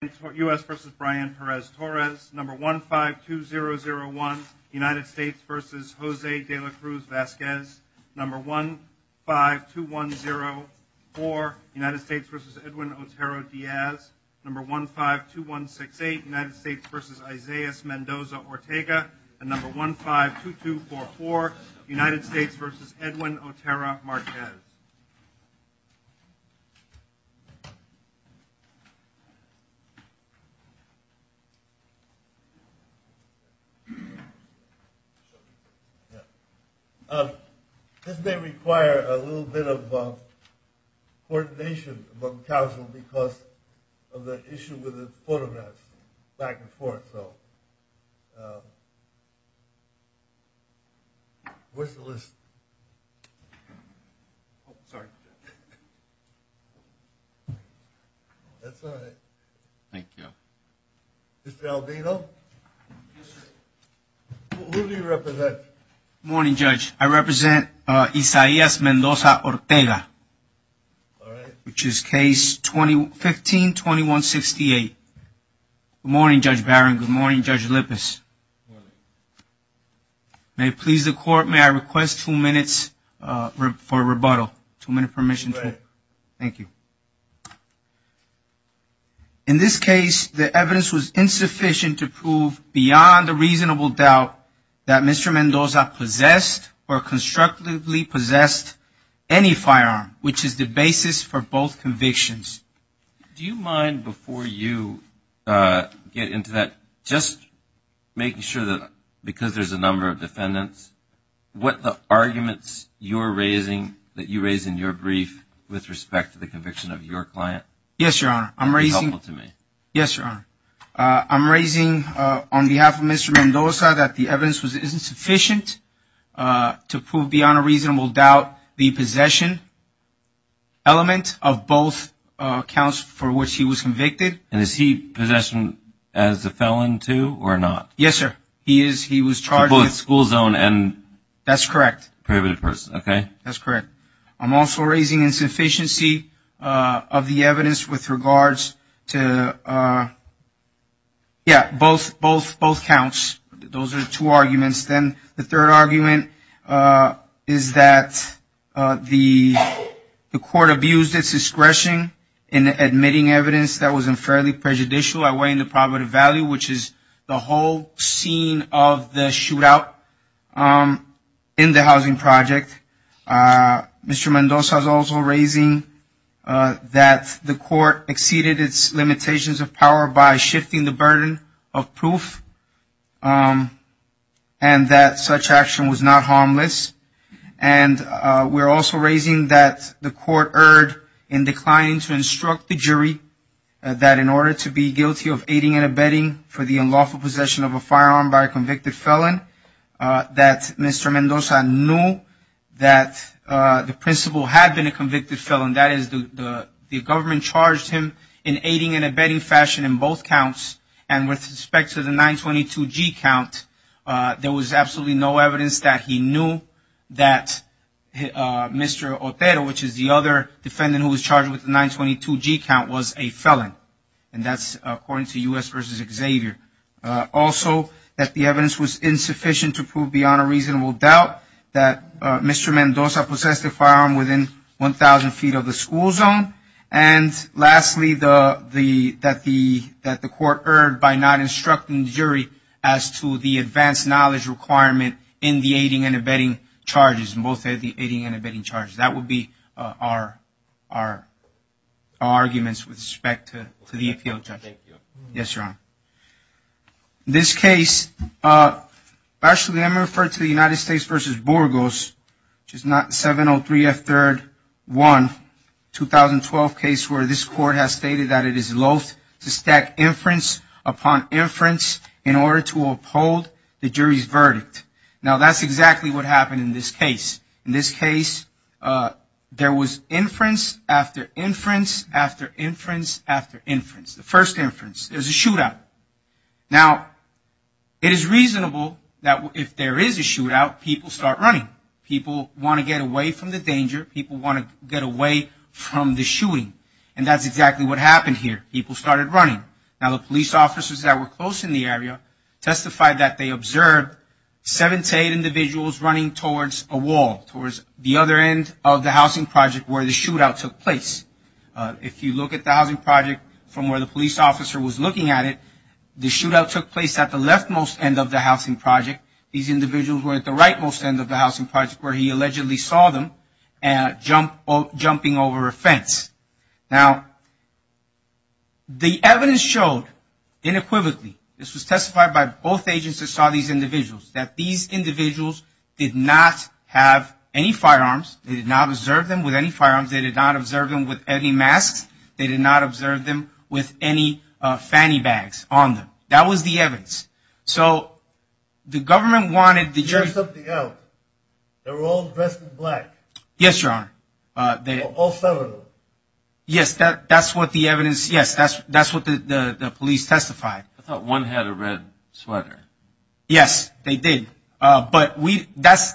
152001 United States v. Jose de la Cruz-Vasquez 152104 United States v. Edwin Otero-Diaz 152168 United States v. Isaias Mendoza-Ortega 152244 United States v. Edwin Otero-Marquez This may require a little bit of coordination among councils because of the issue with the Mr. Albino, who do you represent? Good morning, Judge. I represent Isaias Mendoza-Ortega, which is case 152168. Good morning, Judge Barron. Good morning, Judge Lippis. Good morning. May it please the court, may I request two minutes for rebuttal? Two minutes for remission. You may. Thank you. In this case, the evidence was insufficient to prove beyond a reasonable doubt that Mr. Mendoza possessed or constructively possessed any firearm, which is the basis for both convictions. Do you mind, before you get into that, just making sure that because there's a number of defendants, what the arguments you're raising, that you raise in your brief with respect to the conviction of your client is helpful to me? Yes, Your Honor. I'm raising on behalf of Mr. Mendoza that the evidence was insufficient to prove beyond a reasonable doubt the possession element of both counts for which he was convicted. And is he possessed as a felon, too, or not? Yes, sir. He is. He was charged. In both school zone and? That's correct. That's correct. I'm also raising insufficiency of the evidence with regards to, yeah, both counts. Those are two arguments. Then the third argument is that the court abused its discretion in admitting evidence that was unfairly prejudicial, which is the whole scene of the shootout in the housing project. Mr. Mendoza is also raising that the court exceeded its limitations of power by shifting the burden of proof and that such action was not harmless. And we're also raising that the court erred in declining to instruct the jury that in order to be guilty of aiding and abetting for the unlawful possession of a firearm by a convicted felon, that Mr. Mendoza knew that the principal had been a convicted felon. That is, the government charged him in aiding and abetting fashion in both counts. And with respect to the 922G count, there was absolutely no evidence that he knew that Mr. Otero, which is the other defendant who was charged with the 922G count, was a felon. And that's according to U.S. v. Xavier. Also, that the evidence was insufficient to prove beyond a reasonable doubt that Mr. Mendoza possessed a firearm within 1,000 feet of the school zone. And lastly, that the court erred by not instructing the jury as to the advanced knowledge requirement in the aiding and abetting charges, in both the aiding and abetting charges. That would be our arguments with respect to the appeal. Yes, Your Honor. In this case, actually, I'm referring to the United States v. Burgos, which is 703F3-1, 2012 case, where this court has stated that it is loath to stack inference upon inference in order to uphold the jury's verdict. Now, that's exactly what happened in this case. In this case, there was inference after inference after inference after inference. The first inference is a shootout. Now, it is reasonable that if there is a shootout, people start running. People want to get away from the danger. People want to get away from the shooting. And that's exactly what happened here. People started running. Now, the police officers that were close in the area testified that they observed seven to eight individuals running towards a wall, towards the other end of the housing project where the shootout took place. If you look at the housing project from where the police officer was looking at it, the shootout took place at the leftmost end of the housing project. These individuals were at the rightmost end of the housing project where he allegedly saw them jumping over a fence. Now, the evidence showed, inequivocably, this was testified by both agents that saw these individuals, that these individuals did not have any firearms. They did not observe them with any firearms. They did not observe them with any masks. They did not observe them with any fanny bags on them. That was the evidence. So, the government wanted the jury. You have something else. They were all dressed in black. Yes, Your Honor. All seven of them. Yes, that's what the evidence, yes, that's what the police testified. I thought one had a red sweater. Yes, they did. But that's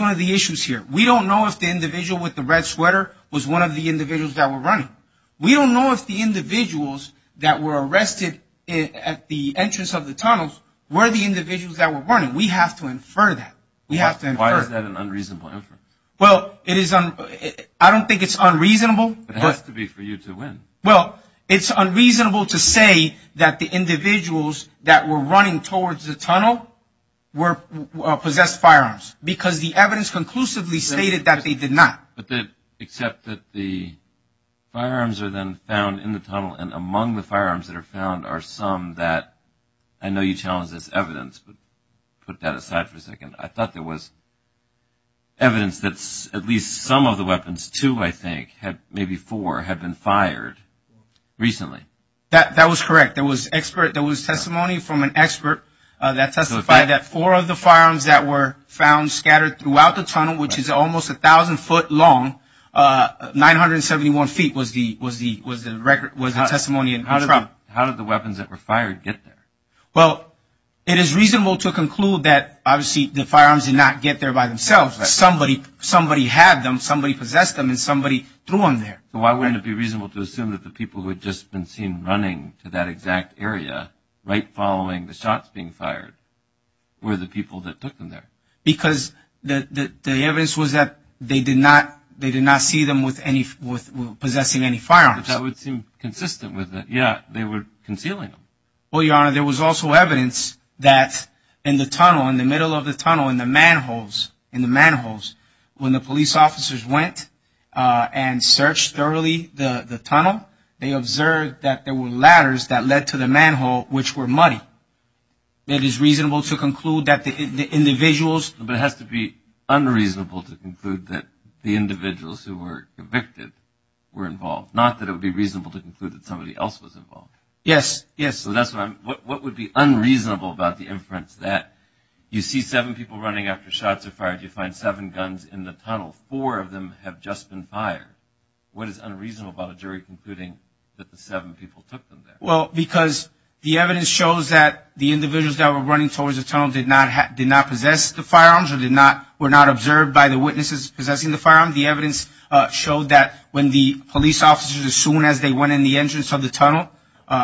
one of the issues here. We don't know if the individual with the red sweater was one of the individuals that were running. We don't know if the individuals that were arrested at the entrance of the tunnels were the individuals that were running. We have to infer that. Why is that an unreasonable inference? Well, I don't think it's unreasonable. It has to be for you to win. Well, it's unreasonable to say that the individuals that were running towards the tunnel possessed firearms because the evidence conclusively stated that they did not. Except that the firearms are then found in the tunnel, and among the firearms that are found are some that, I know you challenged this evidence, but put that aside for a second. I thought there was evidence that at least some of the weapons, two I think, maybe four, had been fired recently. That was correct. There was testimony from an expert that four of the firearms that were found scattered throughout the tunnel, which is almost 1,000 foot long, 971 feet was the testimony. How did the weapons that were fired get there? Well, it is reasonable to conclude that, obviously, the firearms did not get there by themselves. Somebody had them, somebody possessed them, and somebody threw them there. So why wouldn't it be reasonable to assume that the people who had just been seen running to that exact area, right following the shots being fired, were the people that put them there? Because the evidence was that they did not see them possessing any firearms. That would seem consistent with it. Yes, they were concealing them. Well, Your Honor, there was also evidence that in the tunnel, in the middle of the tunnel, in the manholes, when the police officers went and searched thoroughly the tunnel, they observed that there were ladders that led to the manhole, which were muddy. It is reasonable to conclude that the individuals- But it has to be unreasonable to conclude that the individuals who were convicted were involved, not that it would be reasonable to conclude that somebody else was involved. Yes, yes. So what would be unreasonable about the inference that you see seven people running after shots are fired, you find seven guns in the tunnel, four of them have just been fired? What is unreasonable about a jury concluding that the seven people took them there? Well, because the evidence shows that the individuals that were running towards the tunnel did not possess the firearms or were not observed by the witnesses possessing the firearms. The evidence showed that when the police officers, as soon as they went in the entrance of the tunnel,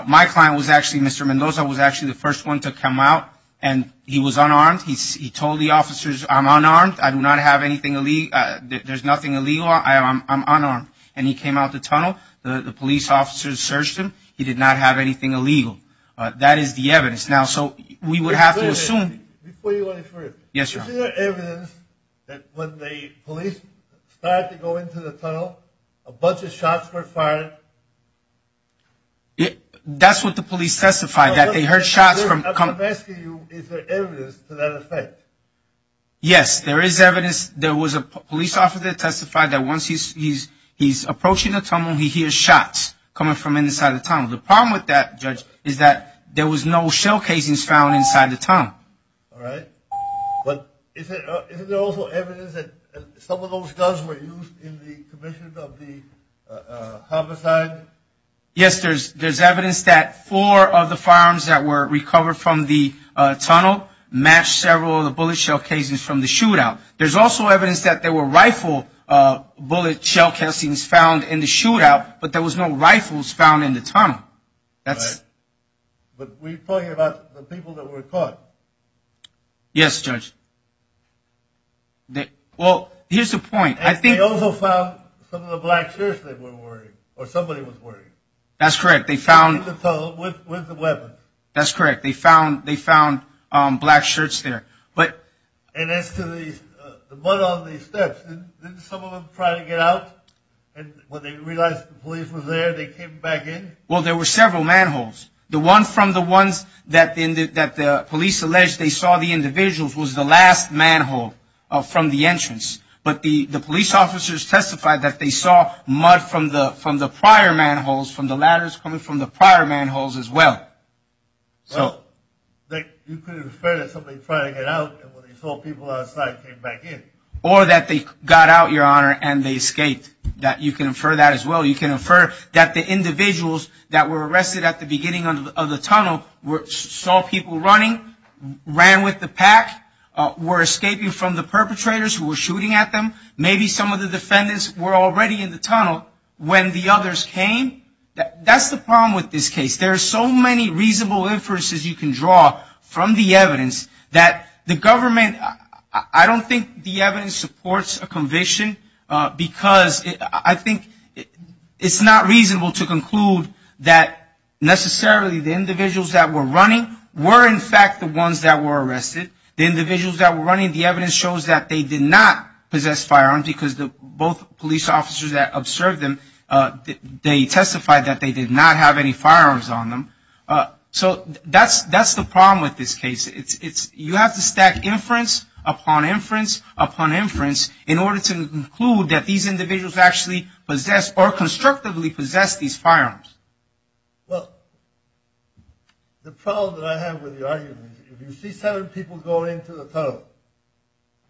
my client was actually, Mr. Mendoza, was actually the first one to come out, and he was unarmed. He told the officers, I'm unarmed, I do not have anything illegal, there's nothing illegal, I'm unarmed. And he came out the tunnel, the police officers searched him, he did not have anything illegal. That is the evidence. Now, so we would have to assume- Before you go any further. Yes, sir. Is there evidence that when the police tried to go into the tunnel, a bunch of shots were fired? That's what the police testified, that they heard shots from- I'm asking you, is there evidence to that effect? Yes, there is evidence, there was a police officer that testified that once he's approaching the tunnel, he hears shots coming from inside the tunnel. The problem with that, Judge, is that there was no shell casings found inside the tunnel. All right. But isn't there also evidence that some of those guns were used in the commissions of the homicide? Yes, there's evidence that four of the firearms that were recovered from the tunnel matched several of the bullet shell casings from the shootout. There's also evidence that there were rifle bullet shell casings found in the shootout, but there was no rifles found in the tunnel. All right. But we're talking about the people that were caught. Yes, Judge. Well, here's the point, I think- And they also found some of the black shirts they were wearing, or somebody was wearing. That's correct, they found- With the weapon. That's correct, they found black shirts there, but- And as to the mud on the steps, didn't some of them try to get out? And when they realized the police was there, they came back in? Well, there were several manholes. The one from the ones that the police alleged they saw the individuals was the last manhole from the entrance. But the police officers testified that they saw mud from the prior manholes, from the ladders coming from the prior manholes as well. You could infer that somebody tried to get out, and when they saw people outside, came back in. Or that they got out, Your Honor, and they escaped. You can infer that as well. You can infer that the individuals that were arrested at the beginning of the tunnel saw people running, ran with the pack, were escaping from the perpetrators who were shooting at them. Maybe some of the defendants were already in the tunnel when the others came. That's the problem with this case. There are so many reasonable inferences you can draw from the evidence that the government- It's not reasonable to conclude that necessarily the individuals that were running were in fact the ones that were arrested. The individuals that were running, the evidence shows that they did not possess firearms because both police officers that observed them, they testified that they did not have any firearms on them. So that's the problem with this case. You have to stack inference upon inference upon inference in order to conclude that these individuals actually possess or constructively possess these firearms. Well, the problem that I have with your argument is if you see seven people go into the tunnel,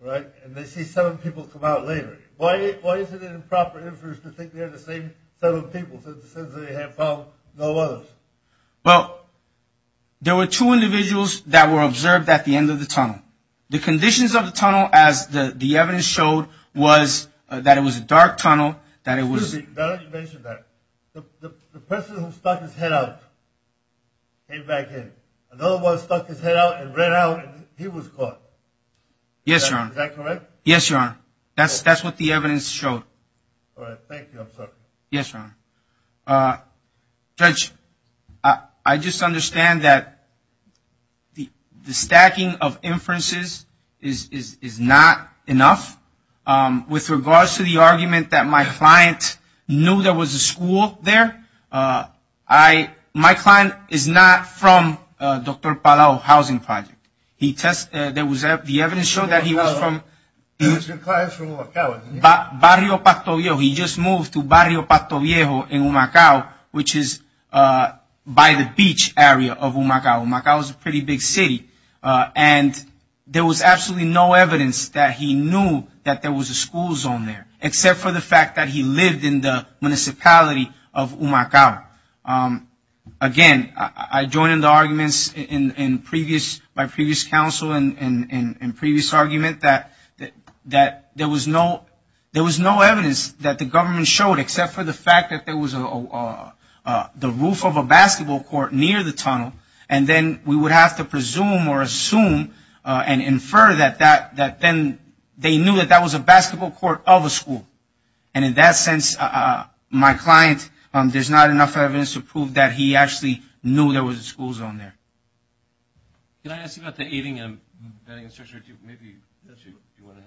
and they see seven people come out later, why isn't it in proper inference to think they're the same seven people since they have found no others? Well, there were two individuals that were observed at the end of the tunnel. The conditions of the tunnel, as the evidence showed, was that it was a dark tunnel, that it was- Excuse me. You mentioned that. The person who stuck his head out came back in. Another one stuck his head out and ran out, and he was caught. Yes, Your Honor. Is that correct? Yes, Your Honor. That's what the evidence showed. All right. Thank you. I'm sorry. Yes, Your Honor. Judge, I just understand that the stacking of inferences is not enough. With regards to the argument that my client knew there was a school there, my client is not from Dr. Palau Housing Project. The evidence showed that he was from- Your client is from what college? Barrio Pato Viejo. He just moved to Barrio Pato Viejo in Humacao, which is by the beach area of Humacao. Humacao is a pretty big city, and there was absolutely no evidence that he knew that there was a school zone there, except for the fact that he lived in the municipality of Humacao. Again, I join in the arguments by previous counsel and previous argument that there was no evidence that the government showed, except for the fact that there was the roof of a basketball court near the tunnel, and then we would have to presume or assume and infer that then they knew that that was a basketball court of a school. And in that sense, my client, there's not enough evidence to prove that he actually knew there was a school zone there. Can I ask you about the eating and the bedding and such? Or do you want to-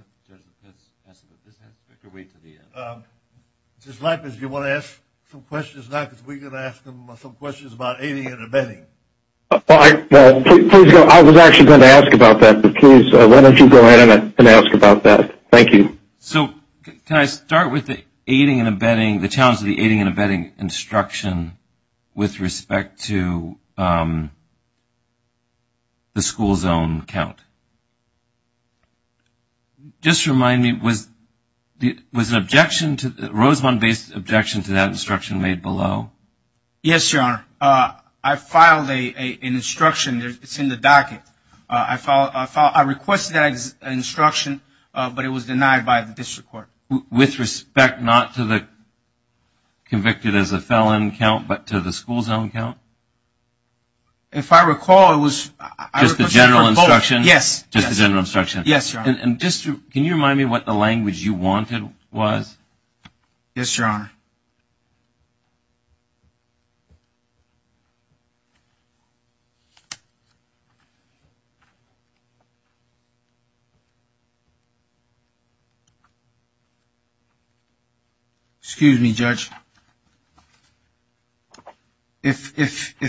Just wait for the end. Justice Latimus, do you want to ask some questions now? Because we're going to ask them some questions about eating and the bedding. Please go ahead. I was actually going to ask about that, but please, why don't you go ahead and ask about that? Thank you. So can I start with the eating and the bedding, the challenge of the eating and the bedding instruction with respect to the school zone count? Just remind me, was an objection to the-Rosemont-based objection to that instruction made below? Yes, Your Honor. I filed an instruction. It's in the docket. I requested that instruction, but it was denied by the district court. With respect not to the convicted as a felon count but to the school zone count? If I recall, it was- Just the general instruction? Just the general instruction? Yes, Your Honor. Yes, Your Honor. Excuse me, Judge. If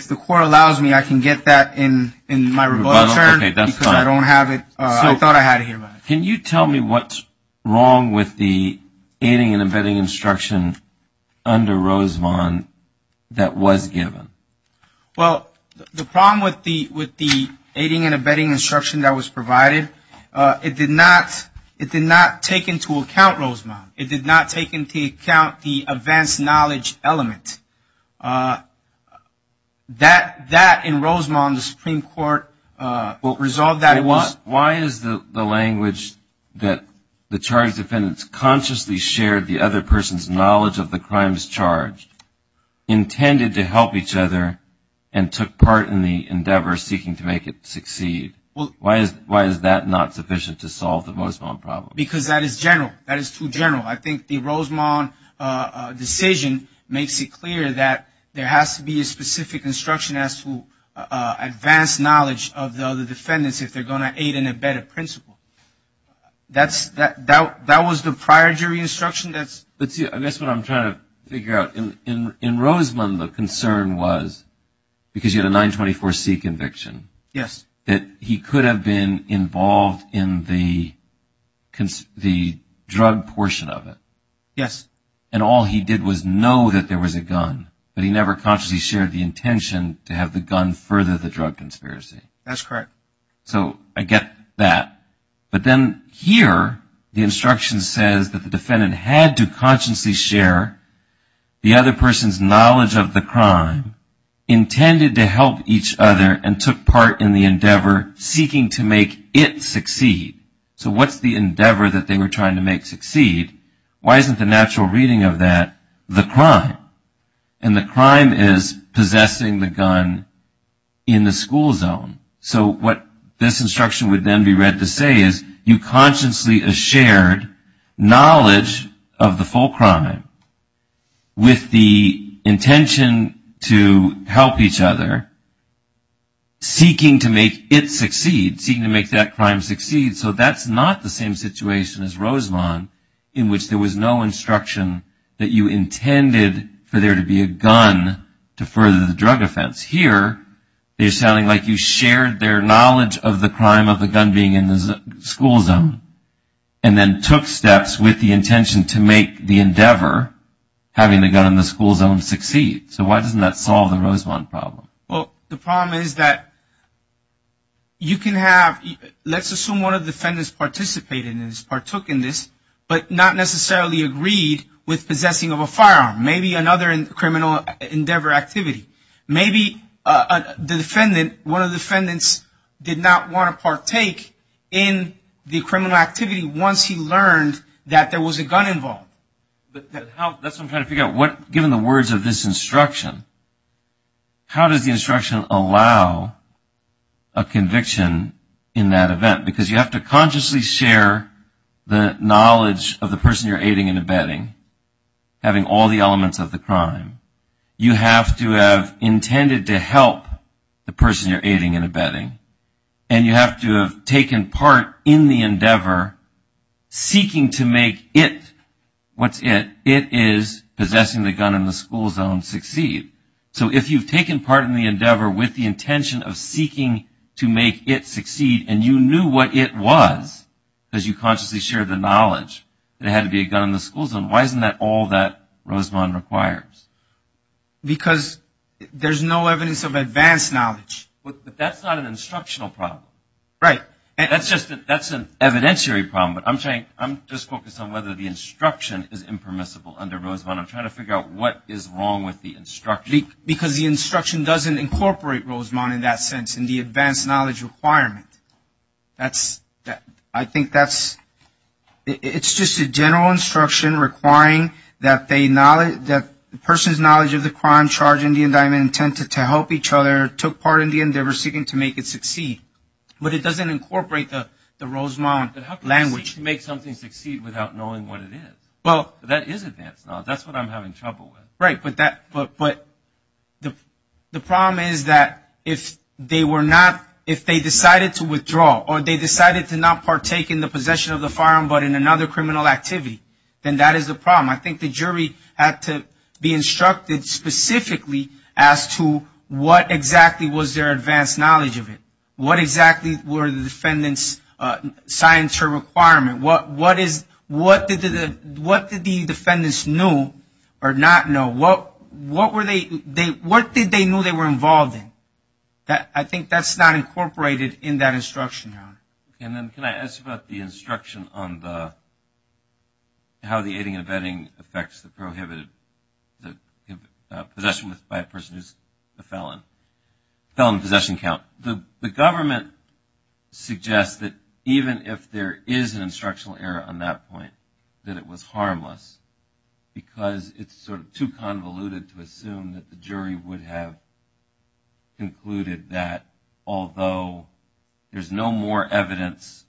the court allows me, I can get that in my rebuttal. Okay, that's fine. Because I don't have it. I thought I had it here. Can you tell me what's wrong with the eating and the bedding instruction under Rosemont that was given? Well, the problem with the eating and the bedding instruction that was provided, it did not take into account Rosemont. It did not take into account the advanced knowledge element. That, in Rosemont, the Supreme Court resolved that- Why is the language that the charged defendants consciously shared the other person's knowledge of the crimes charged intended to help each other and took part in the endeavor seeking to make it succeed? Why is that not sufficient to solve the Rosemont problem? Because that is general. That is too general. I think the Rosemont decision makes it clear that there has to be a specific instruction that's for advanced knowledge of the defendants if they're going to aid in a bedded principle. That was the prior jury instruction. That's what I'm trying to figure out. In Rosemont, the concern was, because you had a 924C conviction, that he could have been involved in the drug portion of it. Yes. And all he did was know that there was a gun, but he never consciously shared the intention to have the gun further the drug conspiracy. That's correct. So I get that. But then here, the instruction says that the defendant had to consciously share the other person's knowledge of the crime intended to help each other and took part in the endeavor seeking to make it succeed. So what's the endeavor that they were trying to make succeed? Why isn't the natural reading of that the crime? And the crime is possessing the gun in the school zone. So what this instruction would then be read to say is, you consciously shared knowledge of the full crime with the intention to help each other, seeking to make it succeed, seeking to make that crime succeed. So that's not the same situation as Rosemont, in which there was no instruction that you intended for there to be a gun to further the drug offense. Here, they're sounding like you shared their knowledge of the crime of the gun being in the school zone and then took steps with the intention to make the endeavor, having the gun in the school zone, succeed. So why doesn't that solve the Rosemont problem? Well, the problem is that you can have, let's assume one of the defendants participated in this, partook in this, but not necessarily agreed with possessing of a firearm, maybe another criminal endeavor activity. Maybe the defendant, one of the defendants, did not want to partake in the criminal activity once he learned that there was a gun involved. That's what I'm trying to figure out. Given the words of this instruction, how does the instruction allow a conviction in that event? Because you have to consciously share the knowledge of the person you're aiding and abetting, having all the elements of the crime. You have to have intended to help the person you're aiding and abetting, and you have to have taken part in the endeavor seeking to make it, what's it? It is possessing the gun in the school zone succeed. So if you've taken part in the endeavor with the intention of seeking to make it succeed and you knew what it was because you consciously shared the knowledge that it had to be a gun in the school zone, why isn't that all that Rosemont requires? Because there's no evidence of advanced knowledge. But that's not an instructional problem. Right. That's an evidentiary problem. But I'm just focused on whether the instruction is impermissible under Rosemont. I'm trying to figure out what is wrong with the instruction. Because the instruction doesn't incorporate Rosemont in that sense in the advanced knowledge requirement. I think it's just a general instruction requiring that the person's knowledge of the crime charge and the indictment intended to help each other took part in the endeavor seeking to make it succeed. But it doesn't incorporate the Rosemont language to make something succeed without knowing what it is. That is advanced knowledge. That's what I'm having trouble with. Right, but the problem is that if they decided to withdraw or they decided to not partake in the possession of the firearm but in another criminal activity, then that is a problem. I think the jury had to be instructed specifically as to what exactly was their advanced knowledge of it. What exactly were the defendant's signs for requirement? What did the defendants know or not know? What did they know they were involved in? I think that's not incorporated in that instruction. Can I ask about the instruction on how the aiding and abetting affects the prohibited possession by a person who is a felon? Felon possession count. The government suggests that even if there is an instructional error on that point, that it was harmless because it's sort of too convoluted to assume that the jury would have concluded that although there's no more evidence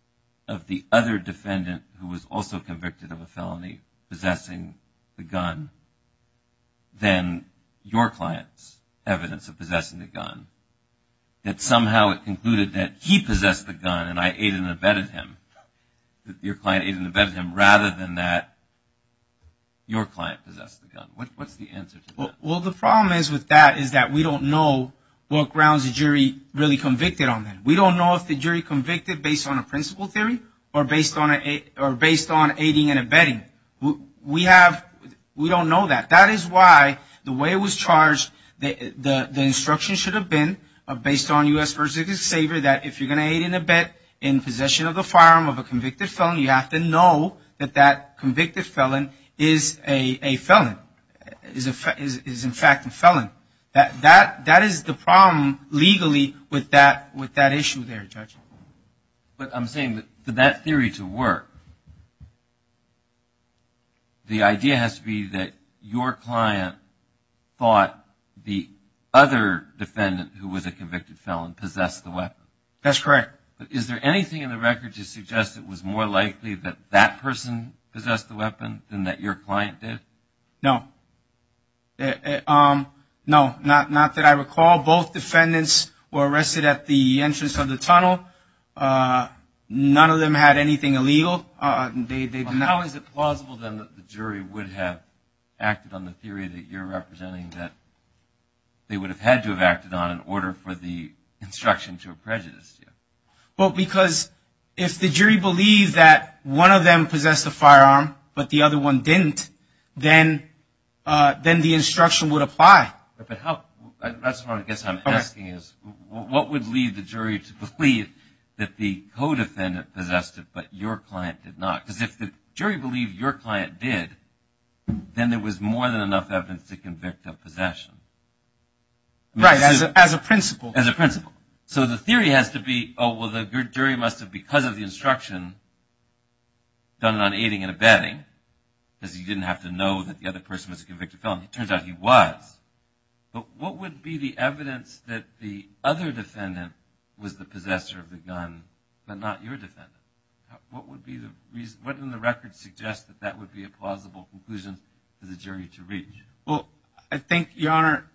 of the other defendant who was also convicted of a felony possessing the gun than your client's evidence of possessing the gun, that somehow it concluded that he possessed the gun and I aided and abetted him, that your client aided and abetted him, rather than that your client possessed the gun. What's the answer to that? Well, the problem with that is that we don't know what grounds the jury really convicted on that. We don't know if the jury convicted based on a principle theory or based on aiding and abetting. We don't know that. That is why the way it was charged, the instruction should have been based on U.S. First Dignity Saver, that if you're going to aid and abet in possession of the firearm of a convicted felon, you have to know that that convicted felon is a felon, is in fact a felon. That is the problem legally with that issue there, Judge. But I'm saying that for that theory to work, the idea has to be that your client fought the other defendant who was a convicted felon, possessed the weapon. That's correct. Is there anything in the record to suggest it was more likely that that person possessed the weapon than that your client did? No. No, not that I recall. Both defendants were arrested at the entrance of the tunnel. None of them had anything illegal. How is it plausible then that the jury would have acted on the theory that you're representing, that they would have had to have acted on in order for the instruction to have prejudiced you? Well, because if the jury believed that one of them possessed the firearm but the other one didn't, then the instruction would apply. That's what I guess I'm asking is, what would lead the jury to believe that the co-defendant possessed it but your client did not? Because if the jury believed your client did, then there was more than enough evidence to convict of possession. Right, as a principle. As a principle. So the theory has to be, oh, well, the jury must have, because of the instruction, done an aiding and abetting, because he didn't have to know that the other person was a convicted felon. It turns out he was. But what would be the evidence that the other defendant was the possessor of the gun but not your defendant? What would be the reason? What in the record suggests that that would be a plausible conclusion for the jury to reach? Well, I think, Your Honor,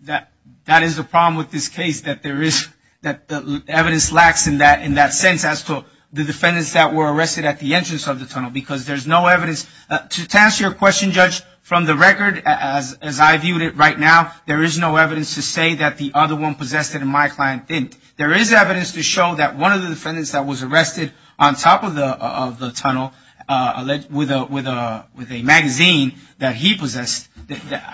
that is the problem with this case, that the evidence lacks in that sense as to the defendants that were arrested at the entrance of the tunnel, because there's no evidence. To answer your question, Judge, from the record, as I view it right now, there is no evidence to say that the other one possessed it and my client didn't. There is evidence to show that one of the defendants that was arrested on top of the tunnel with a magazine that he possessed,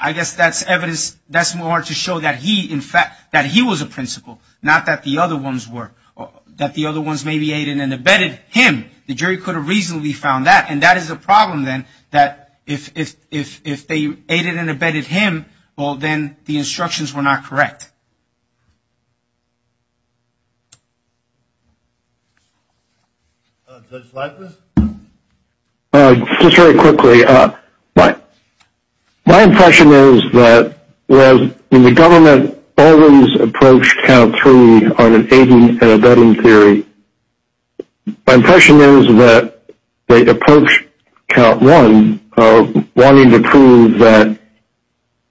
I guess that's evidence that's more to show that he, in fact, that he was a principal, not that the other ones were. That the other ones maybe aided and abetted him. The jury could have reasonably found that, and that is a problem, then, that if they aided and abetted him, well, then the instructions were not correct. Judge Leibniz? Just very quickly. My impression is that when the government always approached Count Three on an aiding and abetting theory, my impression is that they approached Count One wanting to prove that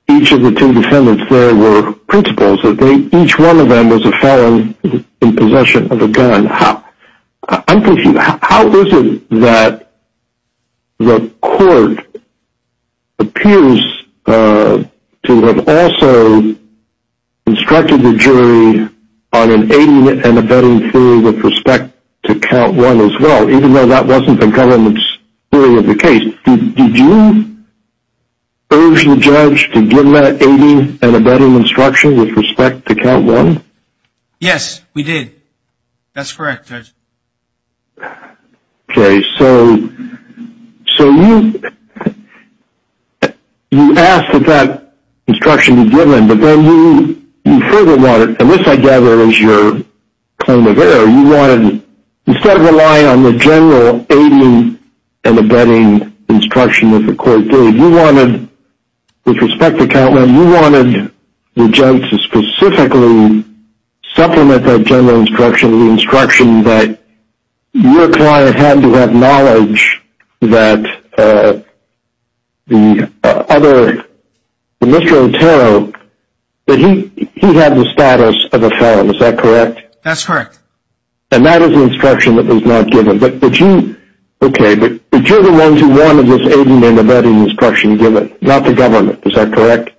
each of the two defendants there were principals, that each one of them was a felon in possession of a gun. I'm confused. How is it that the court appears to have also instructed the jury on an aiding and abetting theory with respect to Count One as well, even though that wasn't the government's theory of the case? Did you urge the judge to give that aiding and abetting instruction with respect to Count One? Yes, we did. That's correct, Judge. Okay. So you asked that that instruction be given, but then you further wanted, and this, I gather, is your point of error. You wanted, instead of relying on the general aiding and abetting instruction, as the court did, you wanted, with respect to Count One, you wanted the judge to specifically supplement that general instruction with the instruction that your client had to acknowledge that the other, Mr. Otero, that he had the status of a felon. Is that correct? That's correct. And that is the instruction that was not given. Okay, but you're the one who wanted this aiding and abetting instruction, not the government. Is that correct?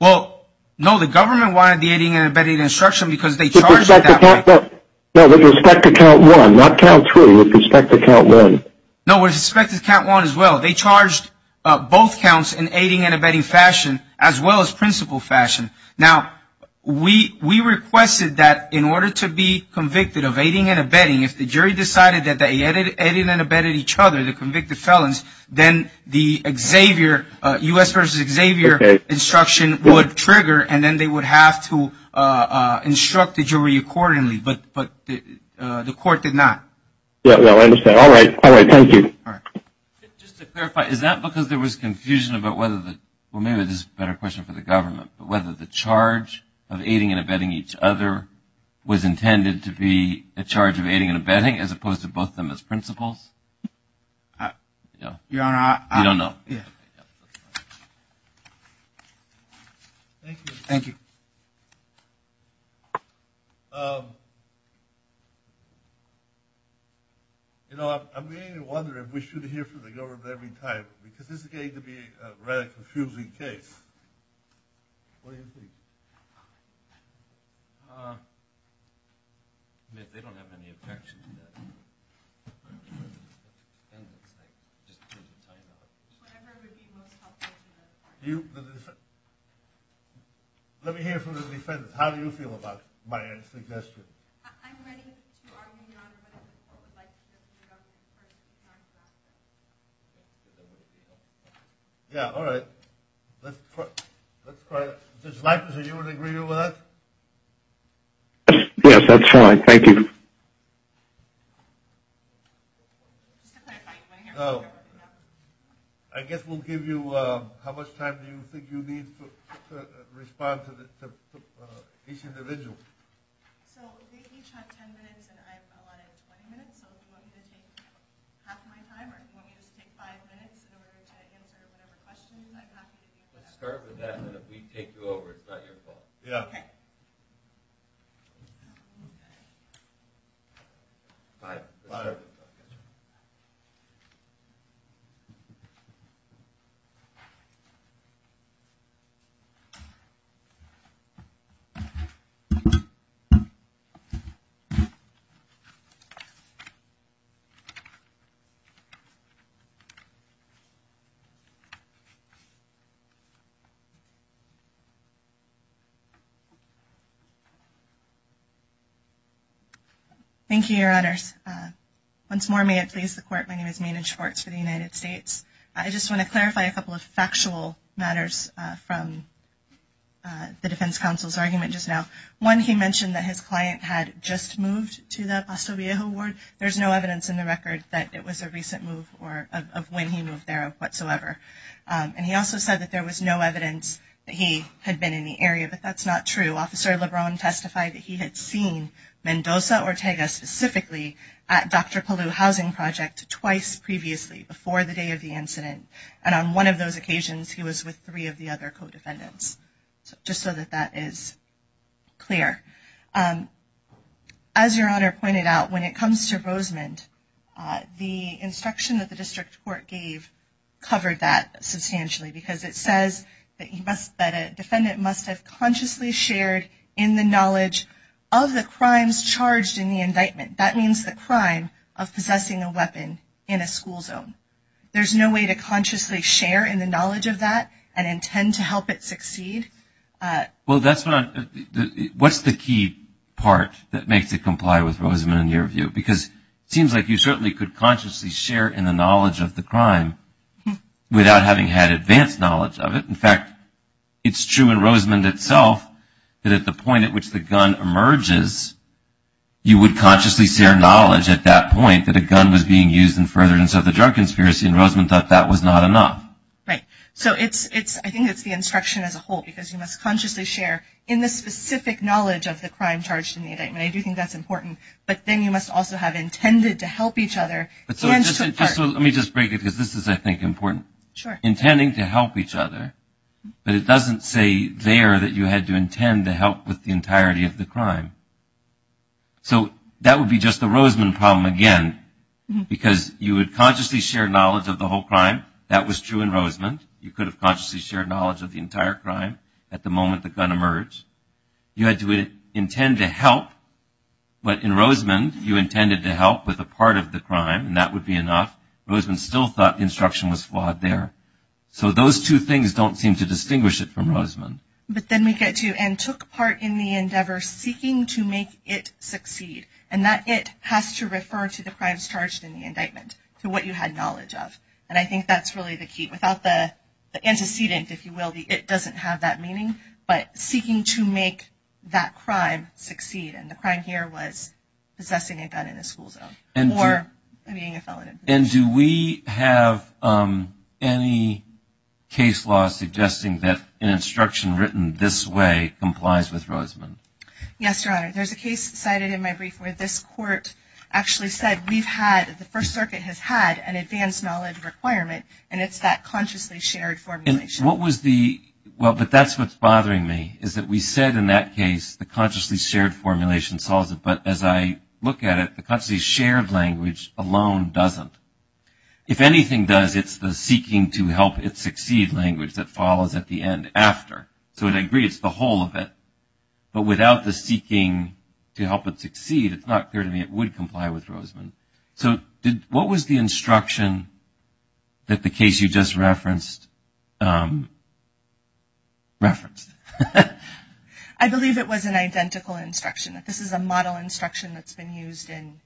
Well, no, the government wanted the aiding and abetting instruction because they charged Count One. No, with respect to Count One, not Count Three, with respect to Count One. No, with respect to Count One as well. They charged both counts in aiding and abetting fashion as well as principle fashion. Now, we requested that in order to be convicted of aiding and abetting, if the jury decided that they aided and abetted each other to convict the felons, then the U.S. versus Xavier instruction would trigger, and then they would have to instruct the jury accordingly, but the court did not. Yeah, I understand. All right. Thank you. Just to clarify, is that because there was confusion about whether the – well, maybe this is a better question for the government – but whether the charge of aiding and abetting each other was intended to be a charge of aiding and abetting as opposed to both of them as principles? Your Honor, I – We don't know. Thank you. I'm beginning to wonder if we should hear from the government every time because this is getting to be a very confusing case. What do you think? They don't have any objections. Let me hear from the defendant. How do you feel about my suggestion? Yeah, all right. Let's try it. Judge Leifert, are you in agreement with that? Yes, that's fine. Thank you. So, I guess we'll give you how much time you think you need to respond to each individual. So, we each have 10 minutes, and I've got a lot of 20 minutes. So, if you want me to take half my time or if you want me to take five minutes in order to answer the questions, I'd have to take that. Start with that, and then we can take you over. It's not your fault. Okay. All right. Thank you, Your Honor. Once more, may it please the Court, my name is Mayna Schwartz for the United States. I just want to clarify a couple of factual matters from the defense counsel's argument just now. One, he mentioned that his client had just moved to the Paso Viejo ward. There's no evidence in the record that it was a recent move or of when he moved there whatsoever. And he also said that there was no evidence that he had been in the area, but that's not true. Officer LeBron testified that he had seen Mendoza Ortega specifically at Dr. Kalu's housing project twice previously, before the day of the incident, and on one of those occasions he was with three of the other co-defendants, just so that that is clear. As Your Honor pointed out, when it comes to Rosemond, the instruction that the district court gave covered that substantially, because it says that a defendant must have consciously shared in the knowledge of the crimes charged in the indictment. That means the crime of possessing a weapon in a school zone. There's no way to consciously share in the knowledge of that and intend to help it succeed. Well, that's not – what's the key part that makes it comply with Rosemond in your view? Because it seems like you certainly could consciously share in the knowledge of the crime without having had advanced knowledge of it. In fact, it's true in Rosemond itself that at the point at which the gun emerges, you would consciously share knowledge at that point that a gun was being used in furtherance of the drug conspiracy, and Rosemond thought that was not enough. Right. So it's – I think it's the instruction as a whole, because you must consciously share in the specific knowledge of the crime charged in the indictment. I do think that's important. But then you must also have intended to help each other. Let me just break it, because this is, I think, important. Sure. Intending to help each other, but it doesn't say there that you had to intend to help with the entirety of the crime. So that would be just the Rosemond problem again, because you would consciously share knowledge of the whole crime. That was true in Rosemond. You could have consciously shared knowledge of the entire crime at the moment the gun emerged. You had to intend to help. But in Rosemond, you intended to help with a part of the crime, and that would be enough. Rosemond still thought the instruction was flawed there. So those two things don't seem to distinguish it from Rosemond. But then we get to, and took part in the endeavor seeking to make it succeed, and that it has to refer to the crimes charged in the indictment, to what you had knowledge of. And I think that's really the key. Without the antecedent, if you will, the it doesn't have that meaning. But seeking to make that crime succeed, and the crime here was possessing a gun in a school zone or being a felon in prison. And do we have any case law suggesting that an instruction written this way complies with Rosemond? Yes, Your Honor. There's a case cited in my brief where this court actually said we've had, the First Circuit has had, an advanced knowledge requirement, and it's that consciously shared formulation. Well, but that's what's bothering me, is that we said in that case the consciously shared formulation solves it. But as I look at it, the consciously shared language alone doesn't. If anything does, it's the seeking to help it succeed language that follows at the end, after. So I agree, it's the whole of it. But without the seeking to help it succeed, it's not clear to me it would comply with Rosemond. So what was the instruction that the case you just referenced referenced? I believe it was an identical instruction. This is a model instruction that's been used in.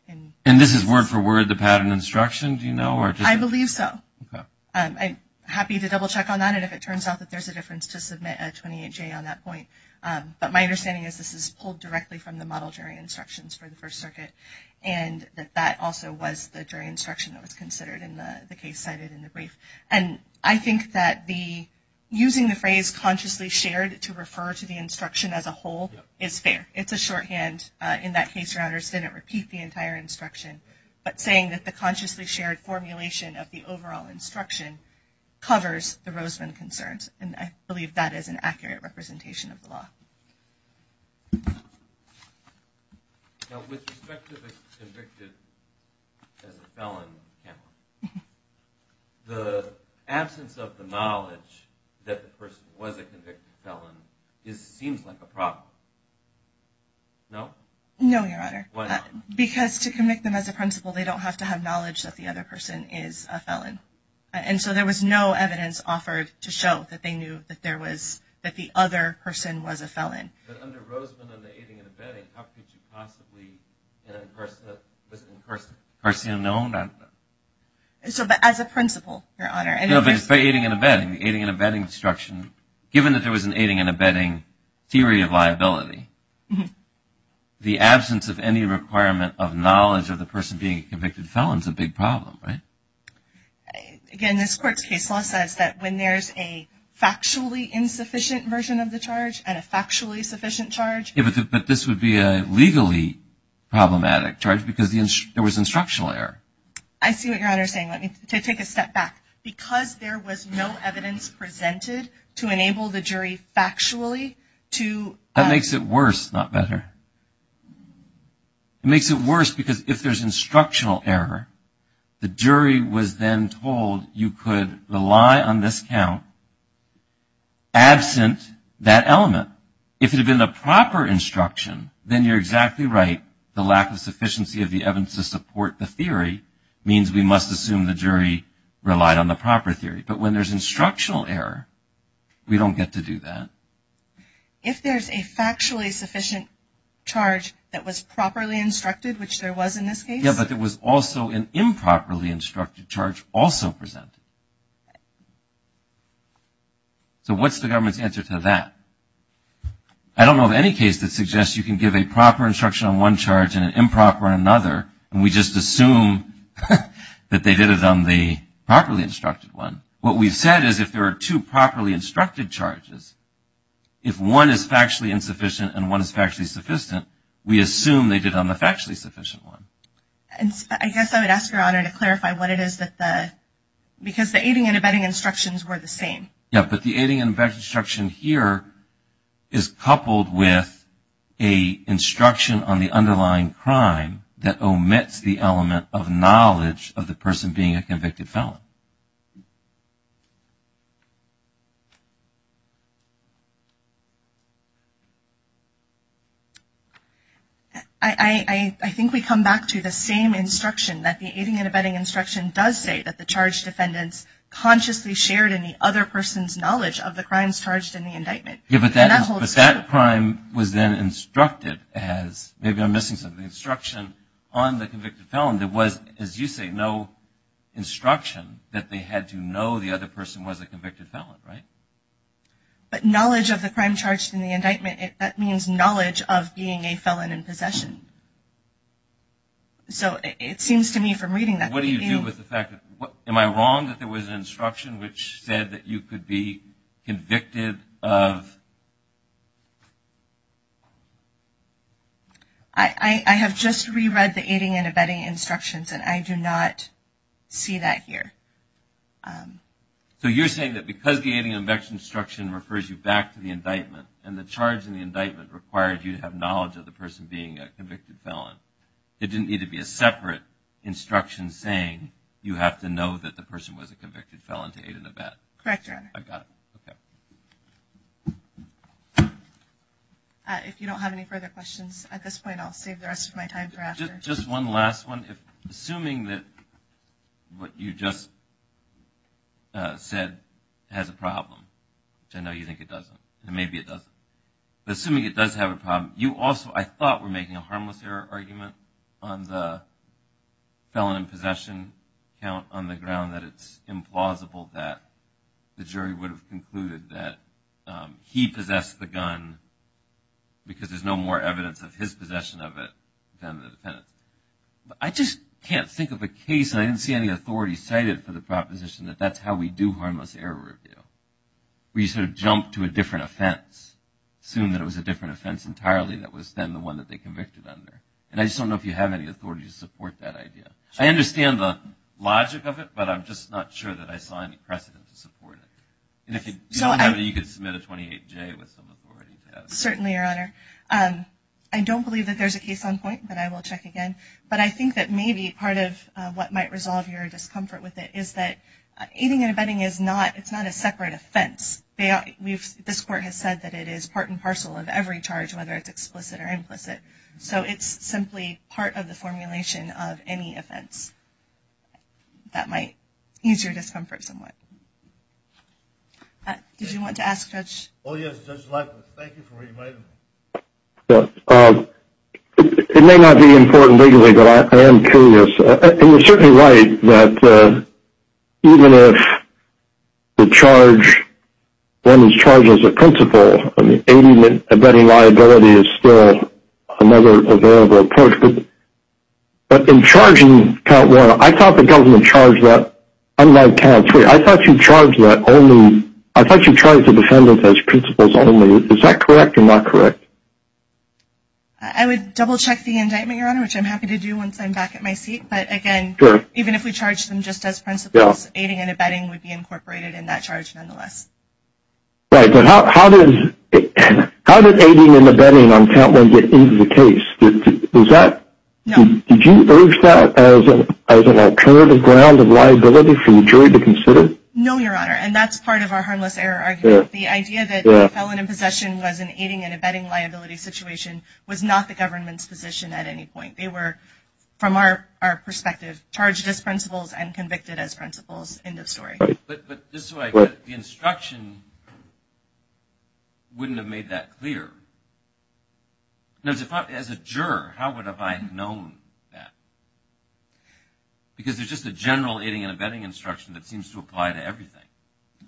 And this is word for word, the pattern instructions, you know? I believe so. I'm happy to double check on that, and if it turns out that there's a difference to submit a 28-J on that point. But my understanding is this is pulled directly from the model jury instructions for the First Circuit, and that that also was the jury instruction that was considered in the case cited in the brief. And I think that using the phrase consciously shared to refer to the instruction as a whole is fair. It's a shorthand. In that case, Routers didn't repeat the entire instruction, but saying that the consciously shared formulation of the overall instruction covers the Rosemond concerns. And I believe that is an accurate representation of the law. Now, with respect to the convicted as a felon, the absence of the knowledge that the person was a convicted felon seems like a problem. No? No, Your Honor. Why not? Because to convict them as a principal, they don't have to have knowledge that the other person is a felon. And so there was no evidence offered to show that they knew that the other person was a felon. But under Rosemond, on the aiding and abetting, how could you possibly address this in person? In person? No, not in person. As a principal, Your Honor. So if it's aiding and abetting, the aiding and abetting instruction, given that there was an aiding and abetting theory of liability, the absence of any requirement of knowledge of the person being a convicted felon is a big problem, right? Again, this court's case law says that when there's a factually insufficient version of the charge and a factually sufficient charge... Yeah, but this would be a legally problematic charge because there was instructional error. I see what Your Honor is saying. Let me take a step back. Because there was no evidence presented to enable the jury factually to... That makes it worse, not better. It makes it worse because if there's instructional error, the jury was then told you could rely on this count absent that element. If it had been the proper instruction, then you're exactly right. The lack of sufficiency of the evidence to support the theory means we must assume the jury relied on the proper theory. But when there's instructional error, we don't get to do that. If there's a factually sufficient charge that was properly instructed, which there was in this case... Yeah, but there was also an improperly instructed charge also presented. So what's the government's answer to that? I don't know of any case that suggests you can give a proper instruction on one charge and an improper on another, and we just assume that they did it on the properly instructed one. What we've said is if there are two properly instructed charges, if one is factually insufficient and one is factually sufficient, we assume they did it on the factually sufficient one. I guess I would ask Your Honor to clarify what it is that the... Because the aiding and abetting instructions were the same. Yeah, but the aiding and abetting instruction here is coupled with an instruction on the underlying crime that omits the element of knowledge of the person being a convicted felon. I think we come back to the same instruction, that the aiding and abetting instruction does say that the charged defendant consciously shared in the other person's knowledge of the crimes charged in the indictment. But that crime was then instructed as... Maybe I'm missing something. The instruction on the convicted felon, there was, as you say, no instruction that they had to know the other person was a convicted felon, right? But knowledge of the crime charged in the indictment, that means knowledge of being a felon in possession. So it seems to me from reading that... What do you do with the fact that... Am I wrong that there was an instruction which said that you could be convicted of... I have just re-read the aiding and abetting instructions and I do not see that here. So you're saying that because the aiding and abetting instruction refers you back to the indictment and the charge in the indictment requires you to have knowledge of the person being a convicted felon, it didn't need to be a separate instruction saying you have to know that the person was a convicted felon to aid and abet. Correct, Your Honor. I've got it. Okay. If you don't have any further questions at this point, I'll save the rest of my time for answers. Just one last one. Assuming that what you just said has a problem, because I know you think it doesn't, and maybe it doesn't, but assuming it does have a problem, you also, I thought, were making a harmless error argument on the felon in possession count on the ground that it's implausible that the jury would have concluded that he possessed the gun because there's no more evidence of his possession of it than the defendant. I just can't think of a case, and I didn't see any authority cited for the proposition, that that's how we do harmless error review. We sort of jump to a different offense, assume that it was a different offense entirely that was then the one that they convicted under. And I just don't know if you have any authority to support that idea. I understand the logic of it, but I'm just not sure that I saw any precedent to support it. And if you don't have it, you could submit a 28-J with some authority to that. Certainly, Your Honor. I don't believe that there's a case on point, but I will check again. But I think that maybe part of what might resolve your discomfort with it is that it's not a separate offense. This court has said that it is part and parcel of every charge, whether it's explicit or implicit. So it's simply part of the formulation of any offense that might ease your discomfort somewhat. Did you want to ask Judge? Oh, yes, Judge Michael. Thank you for inviting me. It may not be important legally, but I am curious. You were certainly right that even if the charge is charged as a principle, the abetting liability is still a variable approach. But in charging count one, I thought the government charged that. I don't know about count three. I thought you charged the defendant as principles only. Is that correct or not correct? I would double-check the indictment, Your Honor, which I'm happy to do once I'm back at my seat. But, again, even if we charged them just as principles, aiding and abetting would be incorporated in that charge nonetheless. Right. So how did aiding and abetting on count one get into the case? Did you urge that as an alternative ground of liability for your jury to consider? No, Your Honor, and that's part of our harmless error argument. The idea that the felon in possession was an aiding and abetting liability situation was not the government's position at any point. They were, from our perspective, charged as principles and convicted as principles in this story. But just so I get it, the instruction wouldn't have made that clear. As a juror, how would I have known that? Because there's just a general aiding and abetting instruction that seems to apply to everything.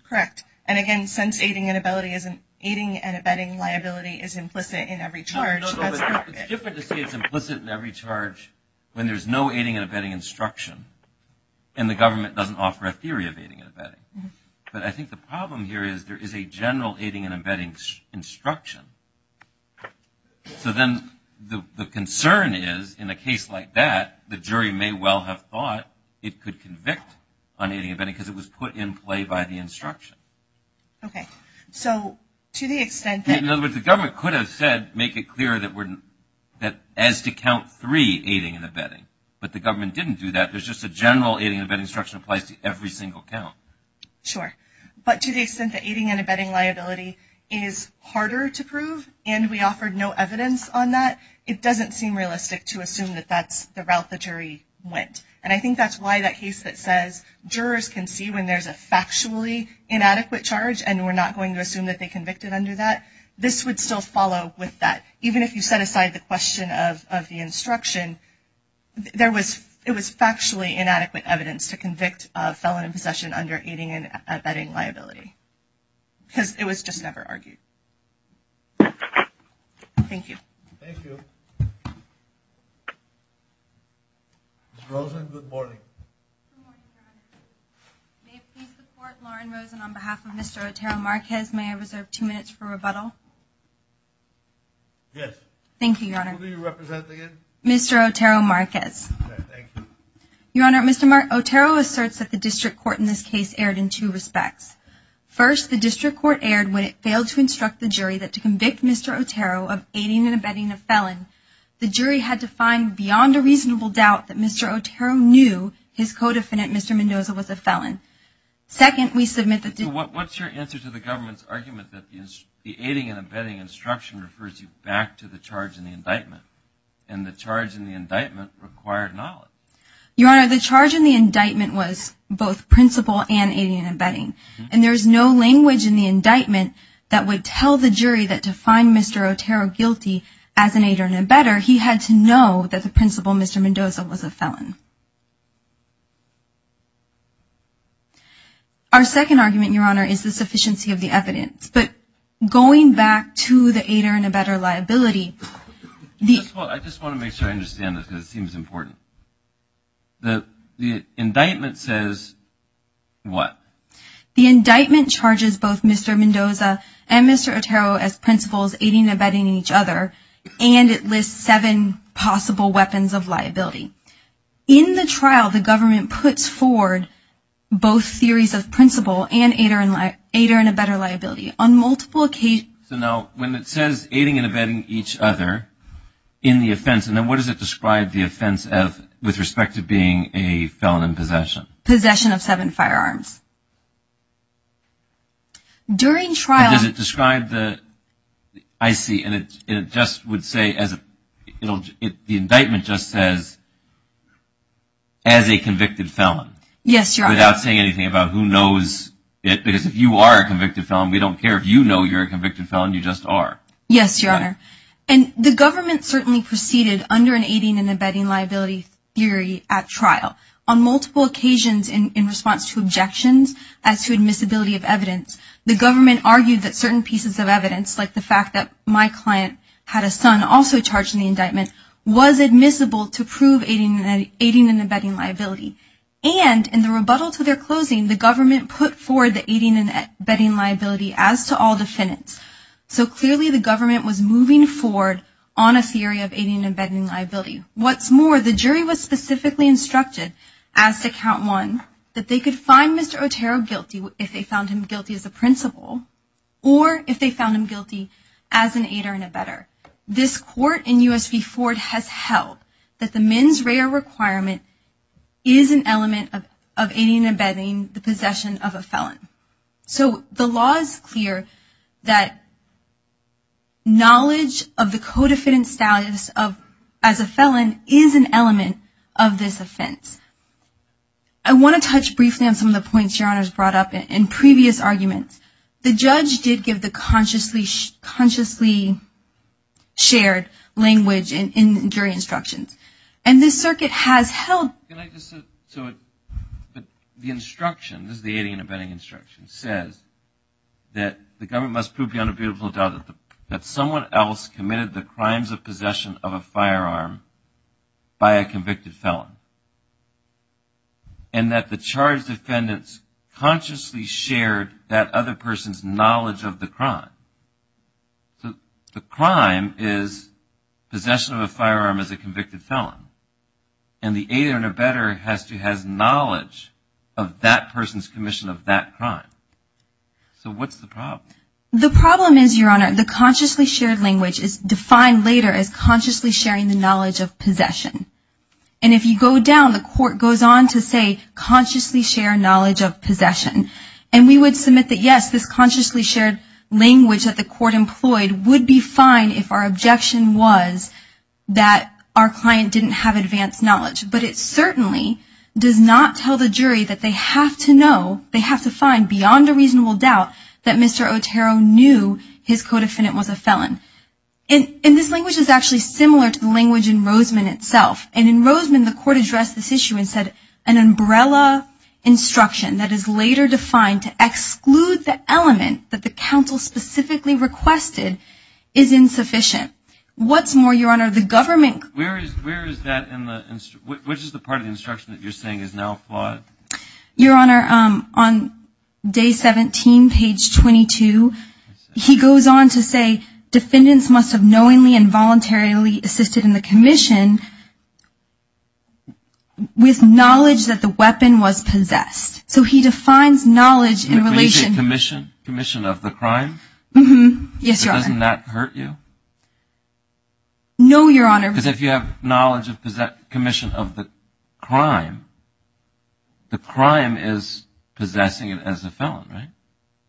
Correct. And, again, since aiding and abetting liability is implicit in every charge, that's just it. It's difficult to say it's implicit in every charge when there's no aiding and abetting instruction and the government doesn't offer a theory of aiding and abetting. But I think the problem here is there is a general aiding and abetting instruction. So then the concern is, in a case like that, the jury may well have thought it could convict on aiding and abetting because it was put in play by the instruction. Okay. So to the extent that... In other words, the government could have said, make it clear that as to count three, aiding and abetting. But the government didn't do that. There's just a general aiding and abetting instruction that applies to every single count. Sure. But to the extent that aiding and abetting liability is harder to prove and we offered no evidence on that, it doesn't seem realistic to assume that that's the route the jury went. And I think that's why that case that says jurors can see when there's a factually inadequate charge and we're not going to assume that they convicted under that, this would still follow with that. Even if you set aside the question of the instruction, it was factually inadequate evidence to convict a felon in possession under aiding and abetting liability because it was just never argued. Thank you. Thank you. Ms. Rosen, good morning. May I please support Lauren Rosen on behalf of Mr. Otero Marquez? May I reserve two minutes for rebuttal? Yes. Thank you, Your Honor. Who do you represent again? Mr. Otero Marquez. Okay. Thank you. Your Honor, Mr. Otero asserts that the district court in this case erred in two respects. First, the district court erred when it failed to instruct the jury that to convict Mr. Otero of aiding and abetting a felon the jury had to find beyond a reasonable doubt that Mr. Otero knew his co-defendant, Mr. Mendoza, was a felon. Second, we submit that the What's your answer to the government's argument that the aiding and abetting instruction refers you back to the charge in the indictment and the charge in the indictment required knowledge? Your Honor, the charge in the indictment was both principle and aiding and abetting and there's no language in the indictment that would tell the jury that to find Mr. Otero guilty as an aider and abetter, he had to know that the principal, Mr. Mendoza, was a felon. Our second argument, Your Honor, is the sufficiency of the evidence. But going back to the aider and abetter liability, the I just want to make sure I understand this because it seems important. The indictment says what? The indictment charges both Mr. Mendoza and Mr. Otero as principles aiding and abetting each other and it lists seven possible weapons of liability. In the trial, the government puts forward both theories of principle and aider and abetter liability. On multiple occasions So now when it says aiding and abetting each other in the offense, and then what does it describe the offense as with respect to being a felon in possession? Possession of seven firearms. During trial Because it described the I see, and it just would say as the indictment just says as a convicted felon. Yes, Your Honor. Without saying anything about who knows it because if you are a convicted felon, we don't care if you know you're a convicted felon, you just are. Yes, Your Honor. And the government certainly proceeded under an aiding and abetting liability theory at trial. On multiple occasions in response to objections as to admissibility of evidence, the government argued that certain pieces of evidence, like the fact that my client had a son also charged in the indictment, was admissible to prove aiding and abetting liability. And in the rebuttal to their closing, the government put forward the aiding and abetting liability as to all defendants. So clearly the government was moving forward on a theory of aiding and abetting liability. What's more, the jury was specifically instructed, as to count one, that they could find Mr. Otero guilty if they found him guilty as a principal or if they found him guilty as an aider and abetter. This court in U.S. v. Ford has held that the men's radar requirement is an element of aiding and abetting the possession of a felon. So the law is clear that knowledge of the co-defendant's status as a felon is an element of this offense. I want to touch briefly on some of the points Sharon has brought up in previous arguments. The judge did give the consciously shared language in jury instructions. And this circuit has held... The instruction, this is the aiding and abetting instruction, says that the government must prove beyond a beautiful doubt that someone else committed the crimes of possession of a firearm by a convicted felon. And that the charged defendants consciously shared that other person's knowledge of the crime. The crime is possession of a firearm as a convicted felon. And the aider and abetter has to have knowledge of that person's commission of that crime. So what's the problem? The problem is, Your Honor, the consciously shared language is defined later as consciously sharing the knowledge of possession. And if you go down, the court goes on to say consciously share knowledge of possession. And we would submit that, yes, this consciously shared language that the court employed would be fine if our objection was that our client didn't have advanced knowledge. But it certainly does not tell the jury that they have to know, they have to find beyond a reasonable doubt that Mr. Otero knew his co-defendant was a felon. And this language is actually similar to the language in Roseman itself. And in Roseman, the court addressed this issue and said an umbrella instruction that is later defined to exclude the element that the counsel specifically requested is insufficient. What's more, Your Honor, the government... Where is that in the, which is the part of the instruction that you're saying is now flawed? Your Honor, on day 17, page 22, he goes on to say defendants must have knowingly and voluntarily assisted in the commission with knowledge that the weapon was possessed. So he defines knowledge in relation... Can you say commission, commission of the crime? Yes, Your Honor. Doesn't that hurt you? No, Your Honor. Because if you have knowledge of commission of the crime, the crime is possessing it as a felon, right?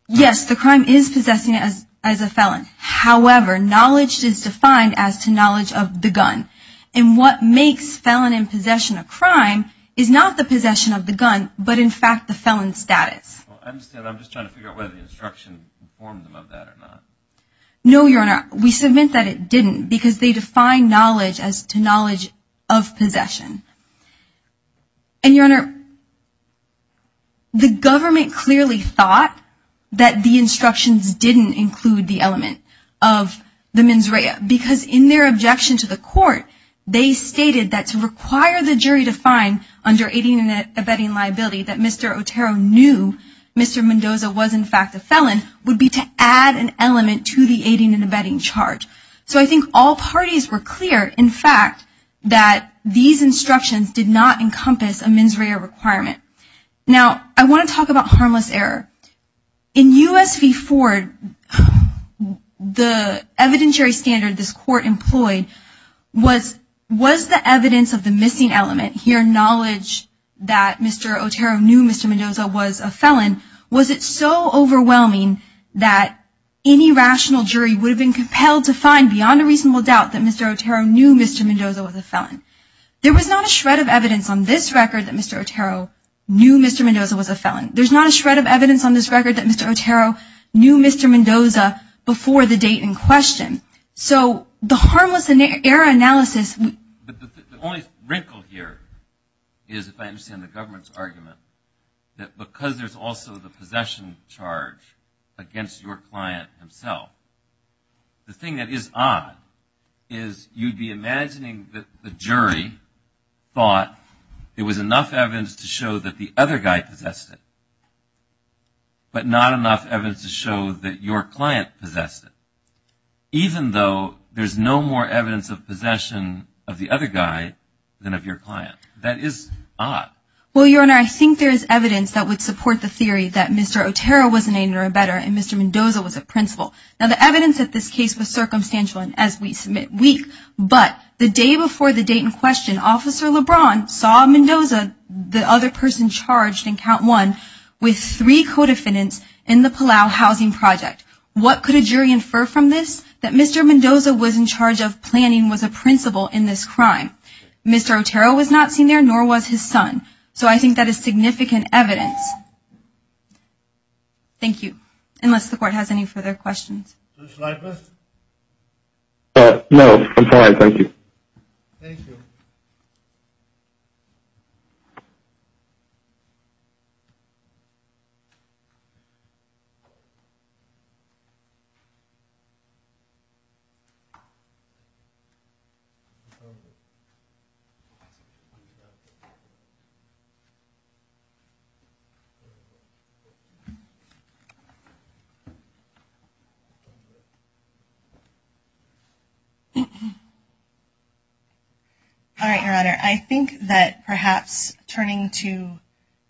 Yes, the crime is possessing it as a felon. However, knowledge is defined as to knowledge of the gun. And what makes felon in possession a crime is not the possession of the gun but, in fact, the felon's status. I'm just trying to figure out whether the instruction informed them of that or not. No, Your Honor. We submit that it didn't because they defined knowledge as to knowledge of possession. And, Your Honor, the government clearly thought that the instructions didn't include the element of the mens rea because in their objection to the court, they stated that to require the jury to find under aiding and abetting liability that Mr. Otero knew Mr. Mendoza was, in fact, a felon would be to add an element to the aiding and abetting charge. So I think all parties were clear, in fact, that these instructions did not encompass a mens rea requirement. Now, I want to talk about harmless error. In U.S. v. Ford, the evidentiary standard this court employed was the evidence of the missing element. Your knowledge that Mr. Otero knew Mr. Mendoza was a felon, was it so overwhelming that any rational jury would have been compelled to find beyond a reasonable doubt that Mr. Otero knew Mr. Mendoza was a felon? There was not a shred of evidence on this record that Mr. Otero knew Mr. Mendoza was a felon. There's not a shred of evidence on this record that Mr. Otero knew Mr. Mendoza before the date in question. So the harmless error analysis... But the only wrinkle here is, if I understand the government's argument, that because there's also the possessions charge against your client himself, the thing that is odd is you'd be imagining that the jury thought there was enough evidence to show that the other guy possessed it, but not enough evidence to show that your client possessed it, even though there's no more evidence of possession of the other guy than of your client. That is odd. Well, Your Honor, I think there is evidence that would support the theory that Mr. Otero was an anger abettor and Mr. Mendoza was a principal. Now, the evidence of this case was circumstantial as we submit weeks, but the day before the date in question, Officer LeBron saw Mendoza, the other person charged in count one, with three co-defendants in the Palau housing project. What could a jury infer from this? That Mr. Mendoza was in charge of planning with a principal in this crime. Mr. Otero was not seen there, nor was his son. So I think that is significant evidence. Thank you. Unless the Court has any further questions. Mr. Leibniz? No, I'm fine. Thank you. Thank you. All right, Your Honor. I think that perhaps turning to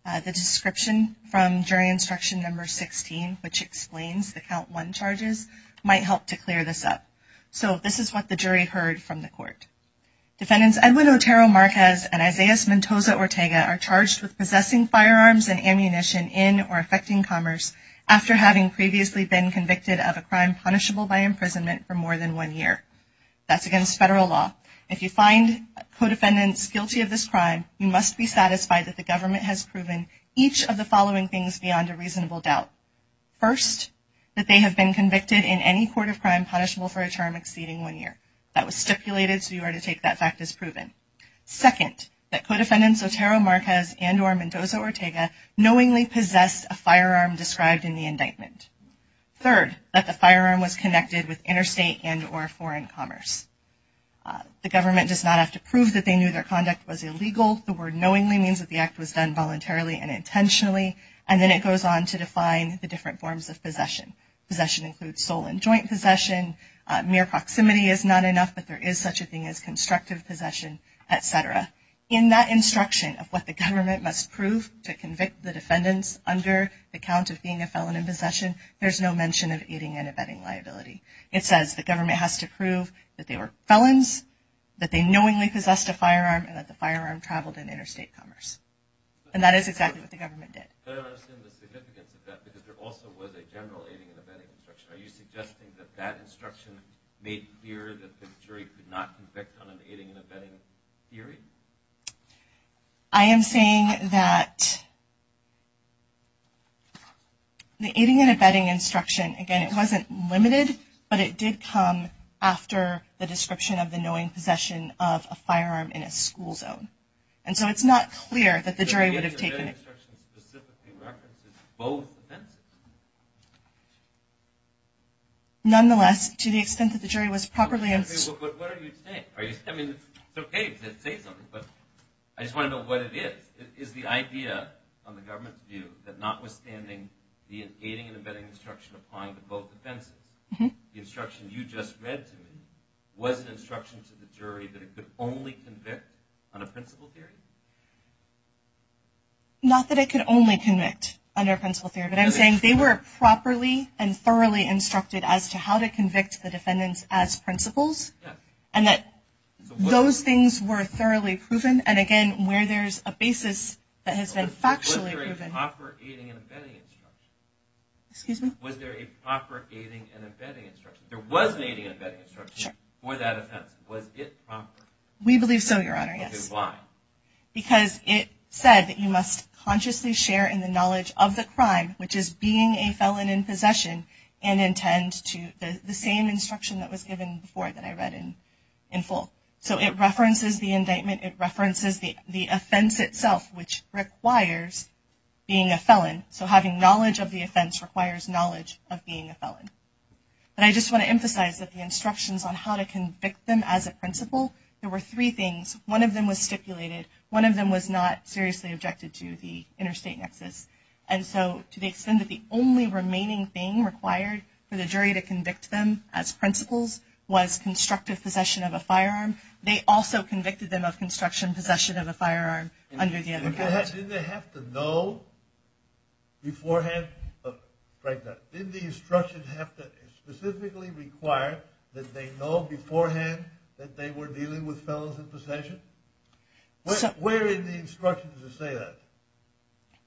the description from jury instruction number 16, which explains the count one charges, might help to clear this up. So this is what the jury heard from the Court. Defendants Edwin Otero Marquez and Isaias Mendoza Ortega are charged with possessing firearms and ammunition in or affecting commerce after having previously been convicted of a crime punishable by imprisonment for more than one year. That's against federal law. If you find co-defendants guilty of this crime, you must be satisfied that the government has proven each of the following things beyond a reasonable doubt. First, that they have been convicted in any court of crime punishable for a term exceeding one year. That was stipulated, so you are to take that fact as proven. Second, that co-defendants Otero Marquez and or Mendoza Ortega knowingly possess a firearm described in the indictment. Third, that the firearm was connected with interstate and or foreign commerce. The government does not have to prove that they knew their conduct was illegal. The word knowingly means that the act was done voluntarily and intentionally. And then it goes on to define the different forms of possession. Possession includes sole and joint possession. Mere proximity is not enough, but there is such a thing as constructive possession, et cetera. In that instruction of what the government must prove to convict the defendants under the count of being a felon in possession, there's no mention of aiding and abetting liability. It says the government has to prove that they were felons, that they knowingly possessed a firearm, and that the firearm traveled in interstate commerce. And that is exactly what the government did. I don't understand the significance of that because there also was a general aiding and abetting instruction. Are you suggesting that that instruction made clear that the jury could not convict on an aiding and abetting theory? I am saying that the aiding and abetting instruction, again, it wasn't limited, but it did come after the description of the knowingly possession of a firearm in a school zone. And so it's not clear that the jury would have taken it. The instruction specifically references both defendants. Nonetheless, to the extent that the jury was properly informed. Okay, but what are you saying? I mean, it's okay to say something, but I just want to know what it is. Is the idea from the government's view that notwithstanding the aiding and abetting instruction upon both defendants, the instruction you just read to me, that it could only convict on a principle theory? Not that it could only convict on their principle theory, but I'm saying they were properly and thoroughly instructed as to how to convict the defendants as principles and that those things were thoroughly proven and, again, where there's a basis that has been factually proven. Was there a proper aiding and abetting instruction? Excuse me? Was there a proper aiding and abetting instruction? There was aiding and abetting instruction for that offense. Was it proper? We believe so, Your Honor. Which is why? Because it said that you must consciously share in the knowledge of the crime, which is being a felon in possession, and intend to the same instruction that was given before that I read in full. So it references the indictment. It references the offense itself, which requires being a felon. So having knowledge of the offense requires knowledge of being a felon. And I just want to emphasize that the instructions on how to convict them as a principle, there were three things. One of them was stipulated. One of them was not seriously objected to, the interstate nexus. And so to the extent that the only remaining thing required for the jury to convict them as principles was constructive possession of a firearm, Didn't they have to know beforehand? Right there. Didn't the instruction have to specifically require that they know beforehand that they were dealing with felons in possession? Where is the instruction to say that?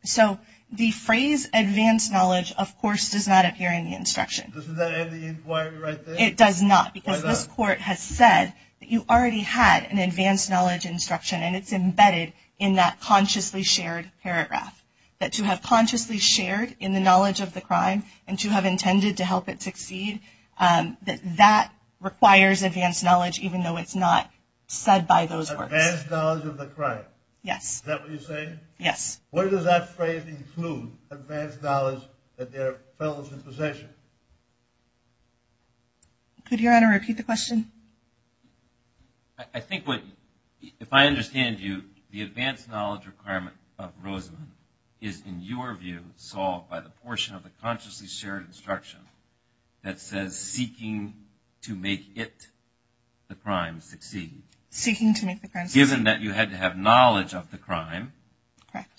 So the phrase advanced knowledge, of course, does not appear in the instruction. Isn't that in the inquiry right there? It does not because the court has said that you already had an advanced knowledge instruction and it's embedded in that consciously shared paragraph. That to have consciously shared in the knowledge of the crime and to have intended to help it succeed, that that requires advanced knowledge, even though it's not said by those courts. Advanced knowledge of the crime. Yes. Is that what you're saying? Yes. Where does that phrase include, advanced knowledge that they're felons in possession? Could Your Honor repeat the question? I think what, if I understand you, the advanced knowledge requirement of Rosen is in your view solved by the portion of the consciously shared instruction that says seeking to make it, the crime, succeed. Seeking to make the crime succeed. Given that you had to have knowledge of the crime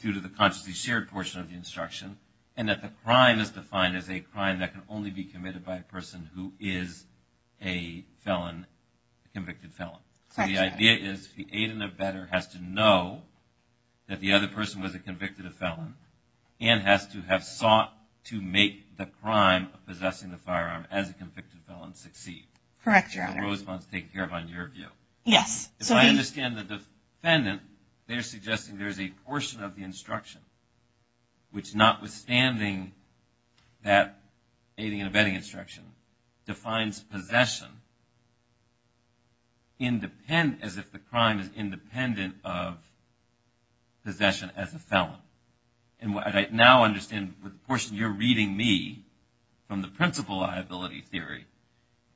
due to the consciously shared portion of the instruction and that the crime is defined as a crime that can only be committed by a person who is a felon, convicted felon. So the idea is the aide and abettor has to know that the other person was a convicted felon and has to have sought to make the crime of possessing the firearm as a convicted felon succeed. Correct, Your Honor. And Rose wants to take care of it in your view. Yes. If I understand the defendant, they're suggesting there's a portion of the instruction which, notwithstanding that aiding and abetting instruction, defines possession as if the crime is independent of possession as a felon. And what I now understand, the portion you're reading me from the principal liability theory,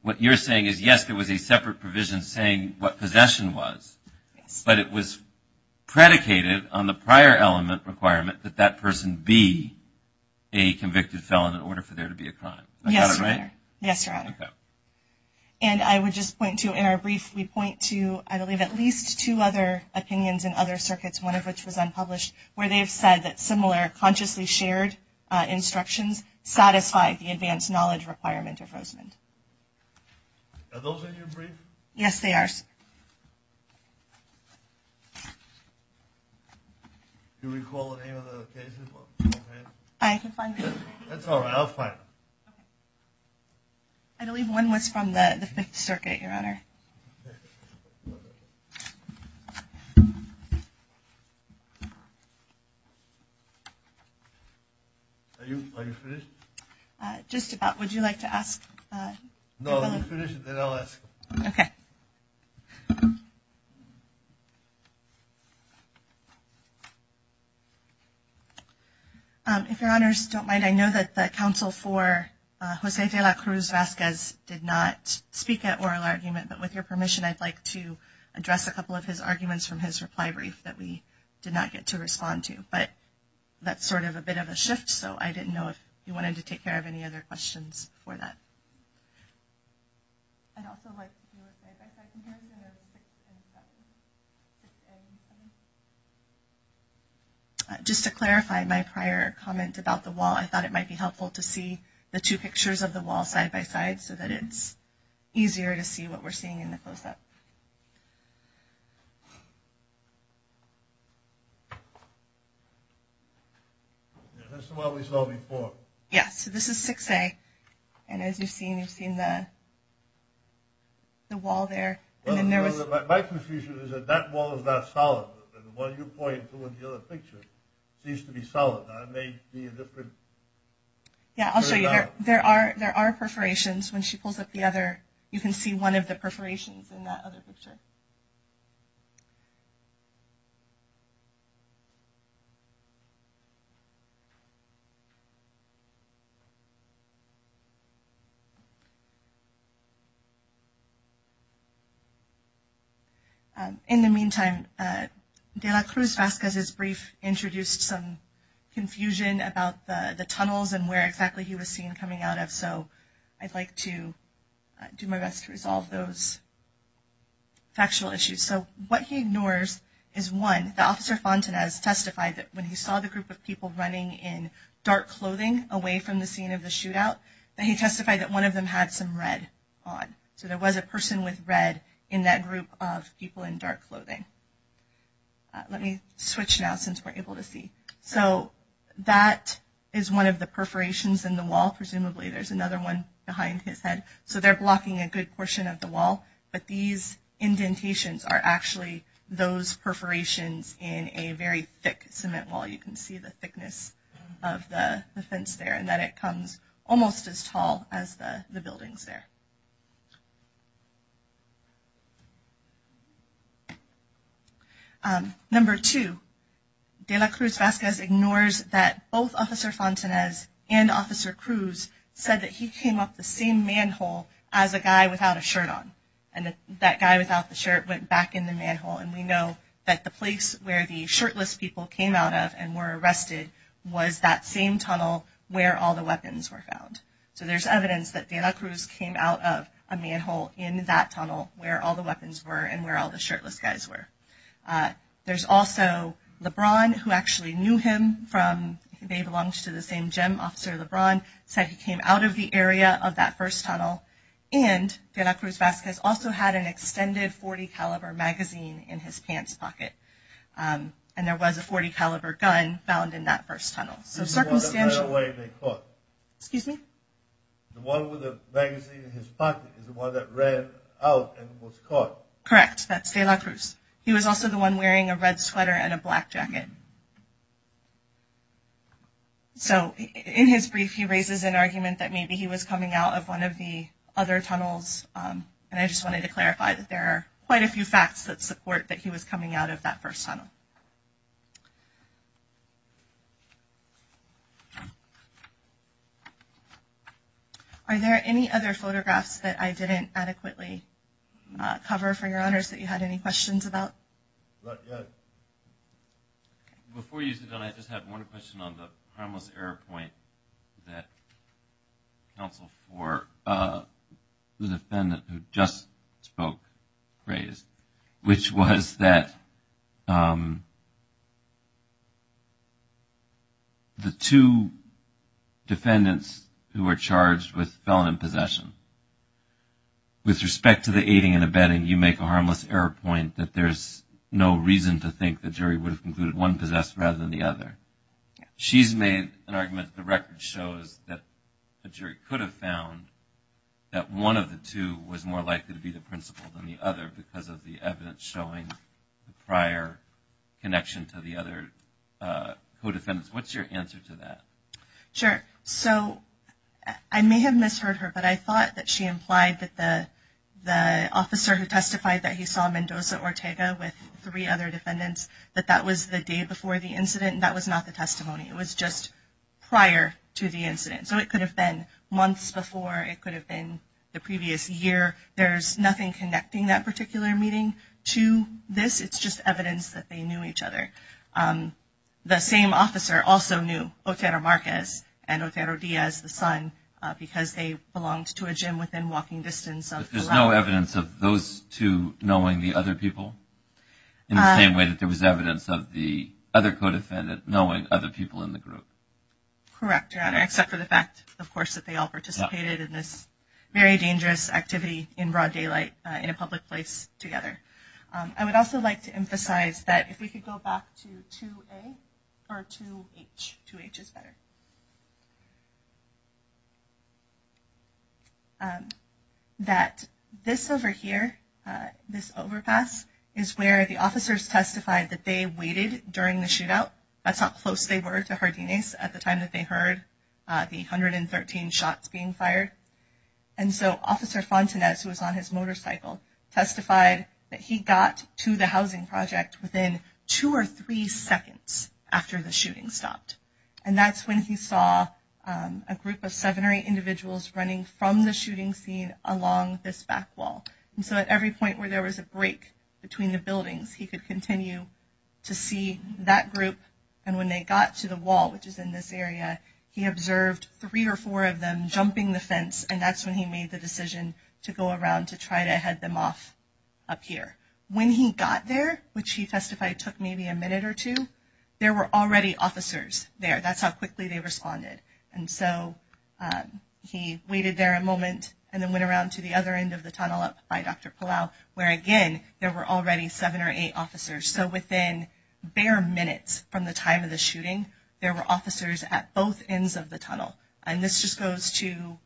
what you're saying is, yes, there was a separate provision saying what possession was, but it was predicated on the prior element requirement that that person be a convicted felon in order for there to be a crime. Is that right? Yes, Your Honor. Okay. And I would just point to, and I briefly point to, I believe, at least two other opinions in other circuits, one of which was unpublished, where they've said that similar consciously shared instructions satisfy the advanced knowledge requirement of Roseman. Are those in your brief? Yes, they are. I believe one was from the Fifth Circuit, Your Honor. Are you finished? Just about. Would you like to ask? No, finish it and then I'll ask. Okay. If Your Honors don't mind, I know that the counsel for Jose de la Cruz-Vasquez did not speak at oral argument, but with your permission, I'd like to address a couple of his arguments from his reply brief that we did not get to respond to. But that's sort of a bit of a shift, so I didn't know if you wanted to take care of any other questions for that. I'd also like to move side-by-side from here. Just to clarify my prior comment about the wall, I thought it might be helpful to see the two pictures of the wall side-by-side so that it's easier to see what we're seeing in the process. This is what we're solving for. Yeah, so this is 6A. And as you're seeing, you're seeing the wall there. My confusion is that that wall is not solid. The one you're pointing to in the other picture seems to be solid. That may be a different… Yeah, I'll show you. There are perforations. When she pulls up the other, you can see one of the perforations in that other picture. In the meantime, De La Cruz Vasquez's brief introduced some confusion about the tunnels and where exactly he was seen coming out of, so I'd like to do my best to resolve those factual issues. So what he ignores is, one, that Officer Fontanez testified that when he saw the group of people running in dark clothing away from the scene of the shootout, that he testified that one of them had some red on. So there was a person with red in that group of people in dark clothing. Let me switch now since we're able to see. So that is one of the perforations in the wall, presumably. There's another one behind his head. So they're blocking a good portion of the wall, but these indentations are actually those perforations in a very thick cement wall. You can see the thickness of the fence there, and that it comes almost as tall as the buildings there. Number two, De La Cruz Vasquez ignores that both Officer Fontanez and Officer Cruz said that he came off the same manhole as a guy without a shirt on, and that guy without the shirt went back in the manhole, and we know that the place where the shirtless people came out of and were arrested was that same tunnel where all the weapons were found. So there's evidence that De La Cruz came out of a manhole in that tunnel where all the weapons were and where all the shirtless guys were. There's also LeBron, who actually knew him. They belonged to the same gym. Officer LeBron said he came out of the area of that first tunnel, and De La Cruz Vasquez also had an extended .40-caliber magazine in his pants pocket, and there was a .40-caliber gun found in that first tunnel. So circumstantial... Excuse me? Correct, that's De La Cruz. He was also the one wearing a red sweater and a black jacket. So in his brief, he raises an argument that maybe he was coming out of one of the other tunnels, and I just wanted to clarify that there are quite a few facts that support that he was coming out of that first tunnel. Are there any other photographs that I didn't adequately cover, for your honors, that you had any questions about? Not yet. Before you do that, I just have one question on the primal error point that's helpful for the defendant who just spoke, which was that the two defendants who were charged with felon possession, with respect to the aiding and abetting, you make a harmless error point that there's no reason to think the jury would have concluded one possessed rather than the other. She's made an argument that the record shows that the jury could have found that one of the two was more likely to be the principal than the other because of the evidence showing prior connection to the other co-defendants. What's your answer to that? Sure. So I may have misheard her, but I thought that she implied that the officer who testified that he saw Mendoza Ortega with three other defendants, that that was the day before the incident. That was not the testimony. It was just prior to the incident. So it could have been months before. It could have been the previous year. There's nothing connecting that particular meeting to this. It's just evidence that they knew each other. The same officer also knew Otero Marquez and Otero Diaz, the son, because they belonged to a gym within walking distance of the lab. So there was no evidence of those two knowing the other people in the same way that there was evidence of the other co-defendant knowing other people in the group? Correct, Your Honor, except for the fact, of course, that they all participated in this very dangerous activity in broad daylight in a public place together. I would also like to emphasize that if we could go back to 2A or 2H, 2H is better, that this over here, this overpass, is where the officers testified that they waited during the shootout. That's how close they were to Jardines at the time that they heard the 113 shots being fired. And so Officer Fontanez, who was on his motorcycle, testified that he got to the housing project within two or three seconds after the shooting stopped. And that's when he saw a group of seven or eight individuals running from the shooting scene along this back wall. And so at every point where there was a break between the buildings, he could continue to see that group. And when they got to the wall, which is in this area, he observed three or four of them jumping the fence, and that's when he made the decision to go around to try to head them off up here. When he got there, which he testified took maybe a minute or two, there were already officers there. That's how quickly they responded. And so he waited there a moment and then went around to the other end of the tunnel up by Dr. Palau, where, again, there were already seven or eight officers. So within bare minutes from the time of the shooting, there were officers at both ends of the tunnel. And this just goes to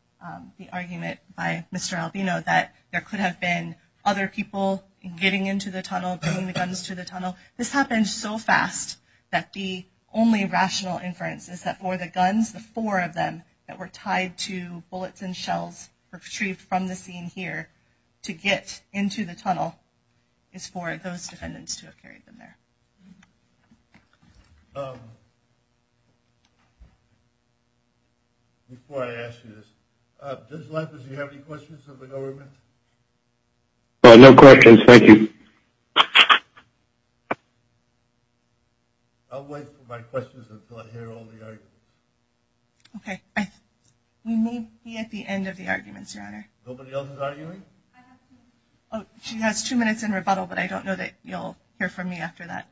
the argument by Mr. Albino that there could have been other people getting into the tunnel, bringing the guns to the tunnel. This happened so fast that the only rational inference is that for the guns, the four of them that were tied to bullets and shells retrieved from the scene here to get into the tunnel is for those defendants to have carried them there. Before I ask you this, Mr. Leff, do you have any questions of the government? No questions. Thank you. I'll wait for my questions until I hear all the arguments. Okay. We may be at the end of the arguments, Your Honor. Nobody else is arguing? She has two minutes in rebuttal, but I don't know that you'll hear from me after that.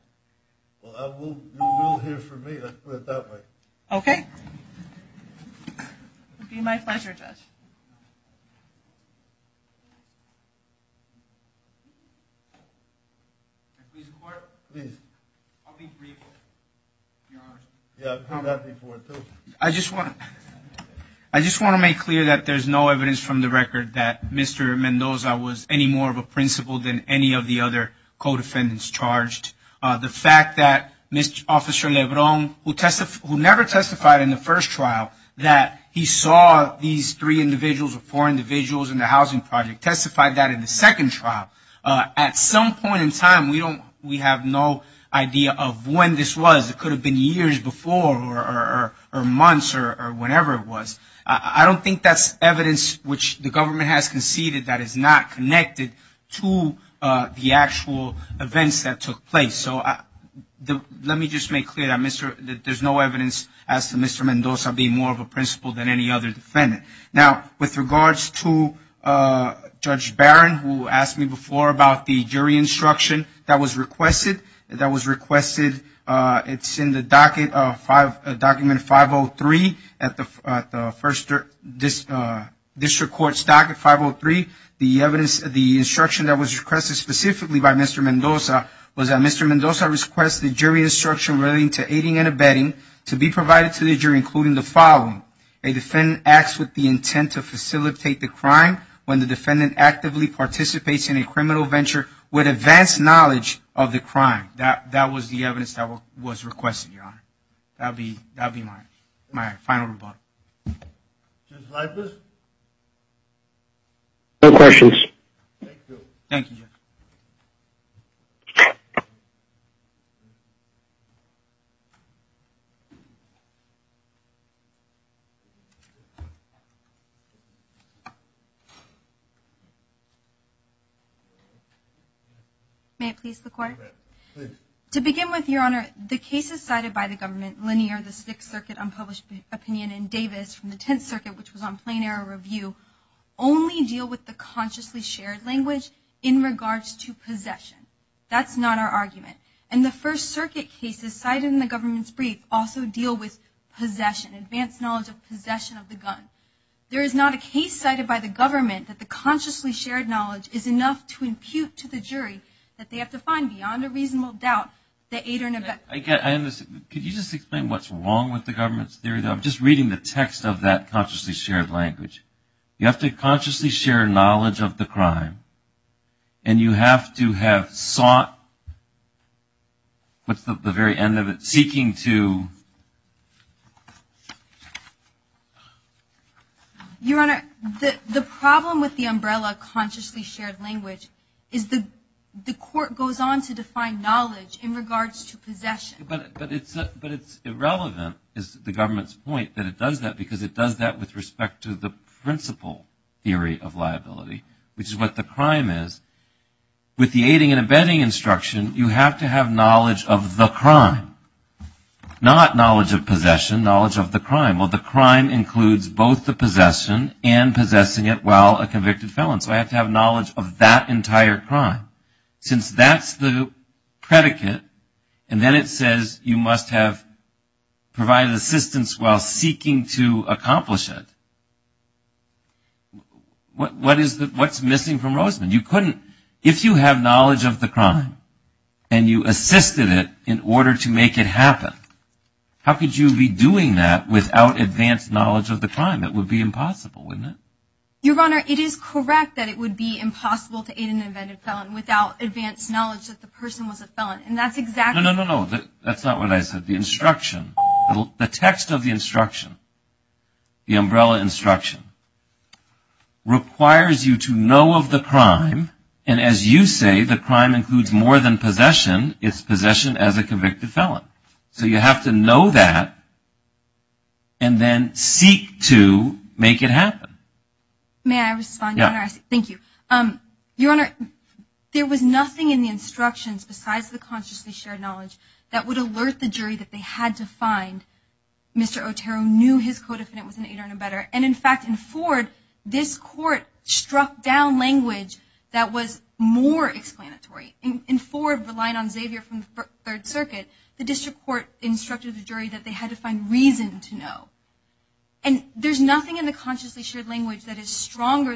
Well, you will hear from me. Let's put it that way. Okay. It would be my pleasure, Judge. I just want to make clear that there's no evidence from the record that Mr. Mendoza was any more of a principal than any of the other co-defendants charged. The fact that Mr. Officer Lebron, who never testified in the first trial, in the housing project, testified that in the second trial, at some point in time, we have no idea of when this was. It could have been years before or months or whenever it was. I don't think that's evidence which the government has conceded that is not connected to the actual events that took place. So let me just make clear that there's no evidence as to Mr. Mendoza being more of a principal than any other defendant. Now, with regards to Judge Barron, who asked me before about the jury instruction that was requested, it's in the docket of document 503, at the District Court's docket 503. The instruction that was requested specifically by Mr. Mendoza was that Mr. Mendoza request the jury instruction relating to aiding and abetting to be provided to the jury including the following. A defendant acts with the intent to facilitate the crime when the defendant actively participates in a criminal venture with advanced knowledge of the crime. That was the evidence that was requested, Your Honor. That would be my final rebuttal. No questions. Thank you, Your Honor. May I please report? To begin with, Your Honor, the cases cited by the government, linear, the Sixth Circuit unpublished opinion and Davis from the Tenth Circuit, which was on plain error review, only deal with the consciously shared language in regards to possession. That's not our argument. also deal with the consciously shared language in regards to possession. also deal with possession, advanced knowledge of possession of the gun. There is not a case cited by the government that the consciously shared knowledge is enough to impute to the jury that they have to find beyond a reasonable doubt that aid or abet. Could you just explain what's wrong with the government's theory? I'm just reading the text of that consciously shared language. You have to consciously share knowledge of the crime and you have to have sought, what's the very end of it? Seeking to... Your Honor, the problem with the umbrella consciously shared language is that the court goes on to define knowledge in regards to possession. But it's irrelevant, is the government's point, that it does that because it does that with respect to the principle theory of liability, which is what the crime is. With the aiding and abetting instruction, you have to have knowledge of the crime, not knowledge of possession, knowledge of the crime. Well, the crime includes both the possession and possessing it while a convicted felon. So I have to have knowledge of that entire crime. Since that's the predicate, and then it says you must have provided assistance while seeking to accomplish it, what's missing from Roseman? If you have knowledge of the crime and you assisted it in order to make it happen, how could you be doing that without advanced knowledge of the crime? It would be impossible, wouldn't it? Your Honor, it is correct that it would be impossible to aid an abetted felon without advanced knowledge that the person was a felon, and that's exactly... No, no, no, that's not what I said. The instruction, the text of the instruction, the umbrella instruction requires you to know of the crime, and as you say, the crime includes more than possession. It's possession as a convicted felon. So you have to know that and then seek to make it happen. May I respond, Your Honor? Yes. Thank you. Your Honor, there was nothing in the instructions besides the consciously shared knowledge that would alert the jury that they had to find Mr. Otero, knew his co-defendant was an aider and abetter, and in fact in Ford, this court struck down language that was more explanatory. In Ford, relying on Xavier from the Third Circuit, the district court instructed the jury that they had to find reason to know, and there's nothing in the consciously shared language that is stronger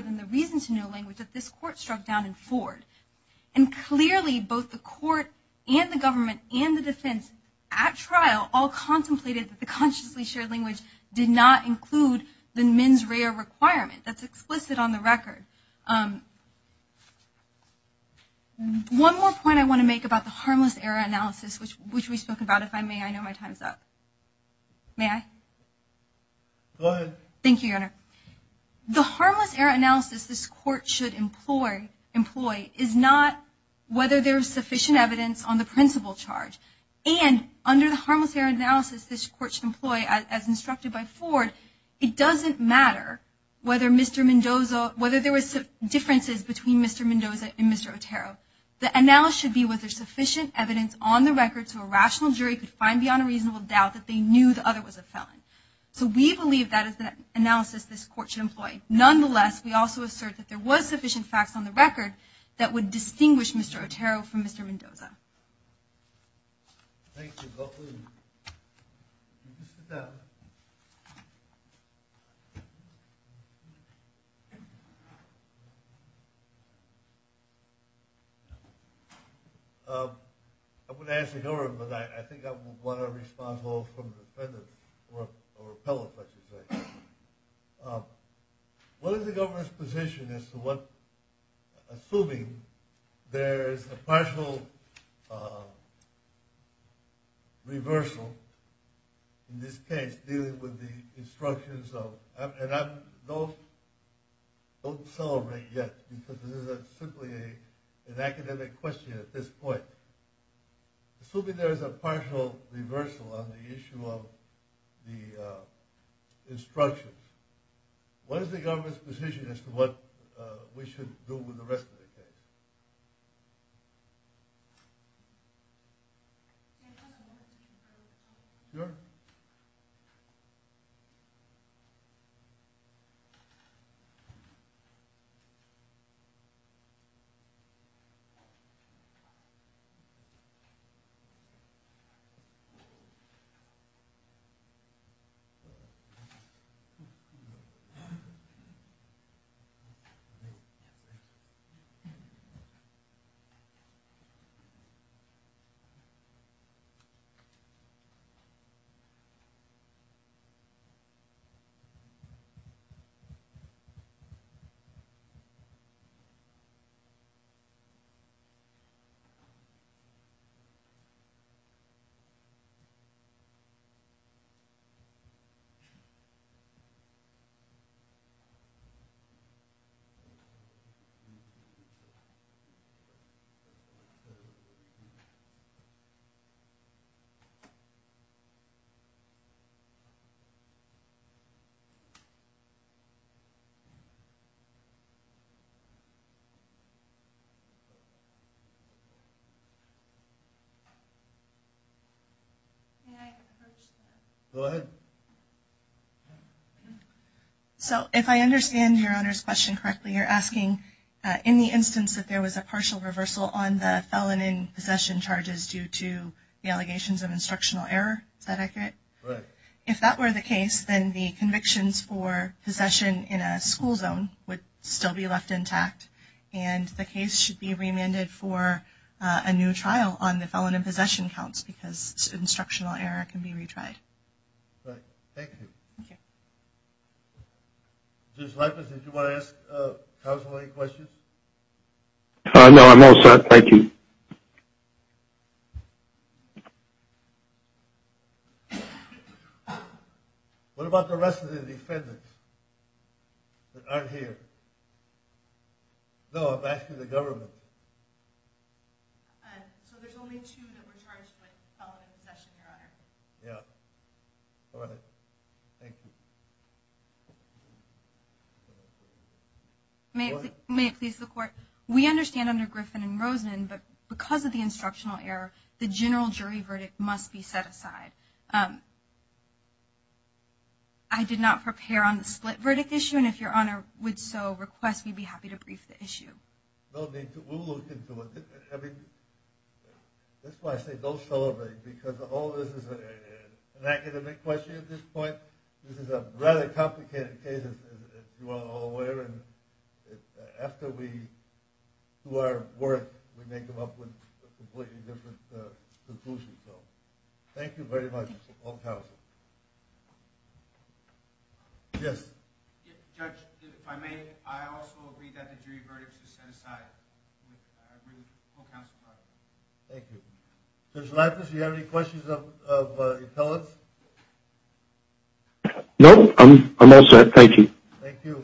And clearly both the court and the government and the defense at trial all contemplated that the consciously shared language did not include the mens rea requirement. That's explicit on the record. One more point I want to make about the harmless error analysis, which we spoke about. If I may, I know my time's up. May I? Go ahead. Thank you, Your Honor. The harmless error analysis this court should employ is not whether there's sufficient evidence on the principal charge. And under the harmless error analysis this court should employ, as instructed by Ford, it doesn't matter whether there were differences between Mr. Mendoza and Mr. Otero. The analysis should be whether there's sufficient evidence on the record so a rational jury could find beyond a reasonable doubt that they knew the other was a felon. So we believe that is the analysis this court should employ. Nonetheless, we also assert that there was sufficient facts on the record that would distinguish Mr. Otero from Mr. Mendoza. Thank you. Go ahead. Sit down. I'm going to ask a question, but I think I want to respond more from the defendant or a felon, let's say. What is the government's position as to what, assuming there's a partial reversal in this case, dealing with the instructions of, and don't celebrate yet, because this is simply an academic question at this point. Assuming there's a partial reversal on the issue of the instructions, what is the government's position as to what we should do with the rest of the case? Mr. Otero. Mr. Mendoza. Go ahead. So if I understand your owner's question correctly, you're asking in the instance that there was a partial reversal, on the felon in possession charges due to the allegations of instructional error that I get? Correct. If that were the case, then the convictions for possession in a school zone would still be left intact, and the case should be reamended for a new trial on the felon in possession counts because instructional error can be retried. Correct. Thank you. Thank you. Judge Leifert, did you want to ask counsel any questions? No, I'm all set. Thank you. What about the rest of the defendants that aren't here? No, I'm asking the government. So there's only two that were charged with felon in possession, correct? Yes. All right. Thank you. May it please the Court? We understand under Griffin and Rosen that because of the instructional error, the general jury verdict must be set aside. I did not prepare on the split verdict issue, and if your owner would so request, we'd be happy to brief the issue. No need to. We'll look into it. I mean, this is why I say don't celebrate, because all this is an academic question at this point. This is a rather complicated case, as you are all aware, and after we do our work, we may come up with a completely different conclusion. So thank you very much for all counsel. Yes. Judge, if I may, I also agree that the jury verdict is set aside. Thank you. Judge Latham, do you have any questions of your fellow? No, I'm all set. Thank you. Thank you.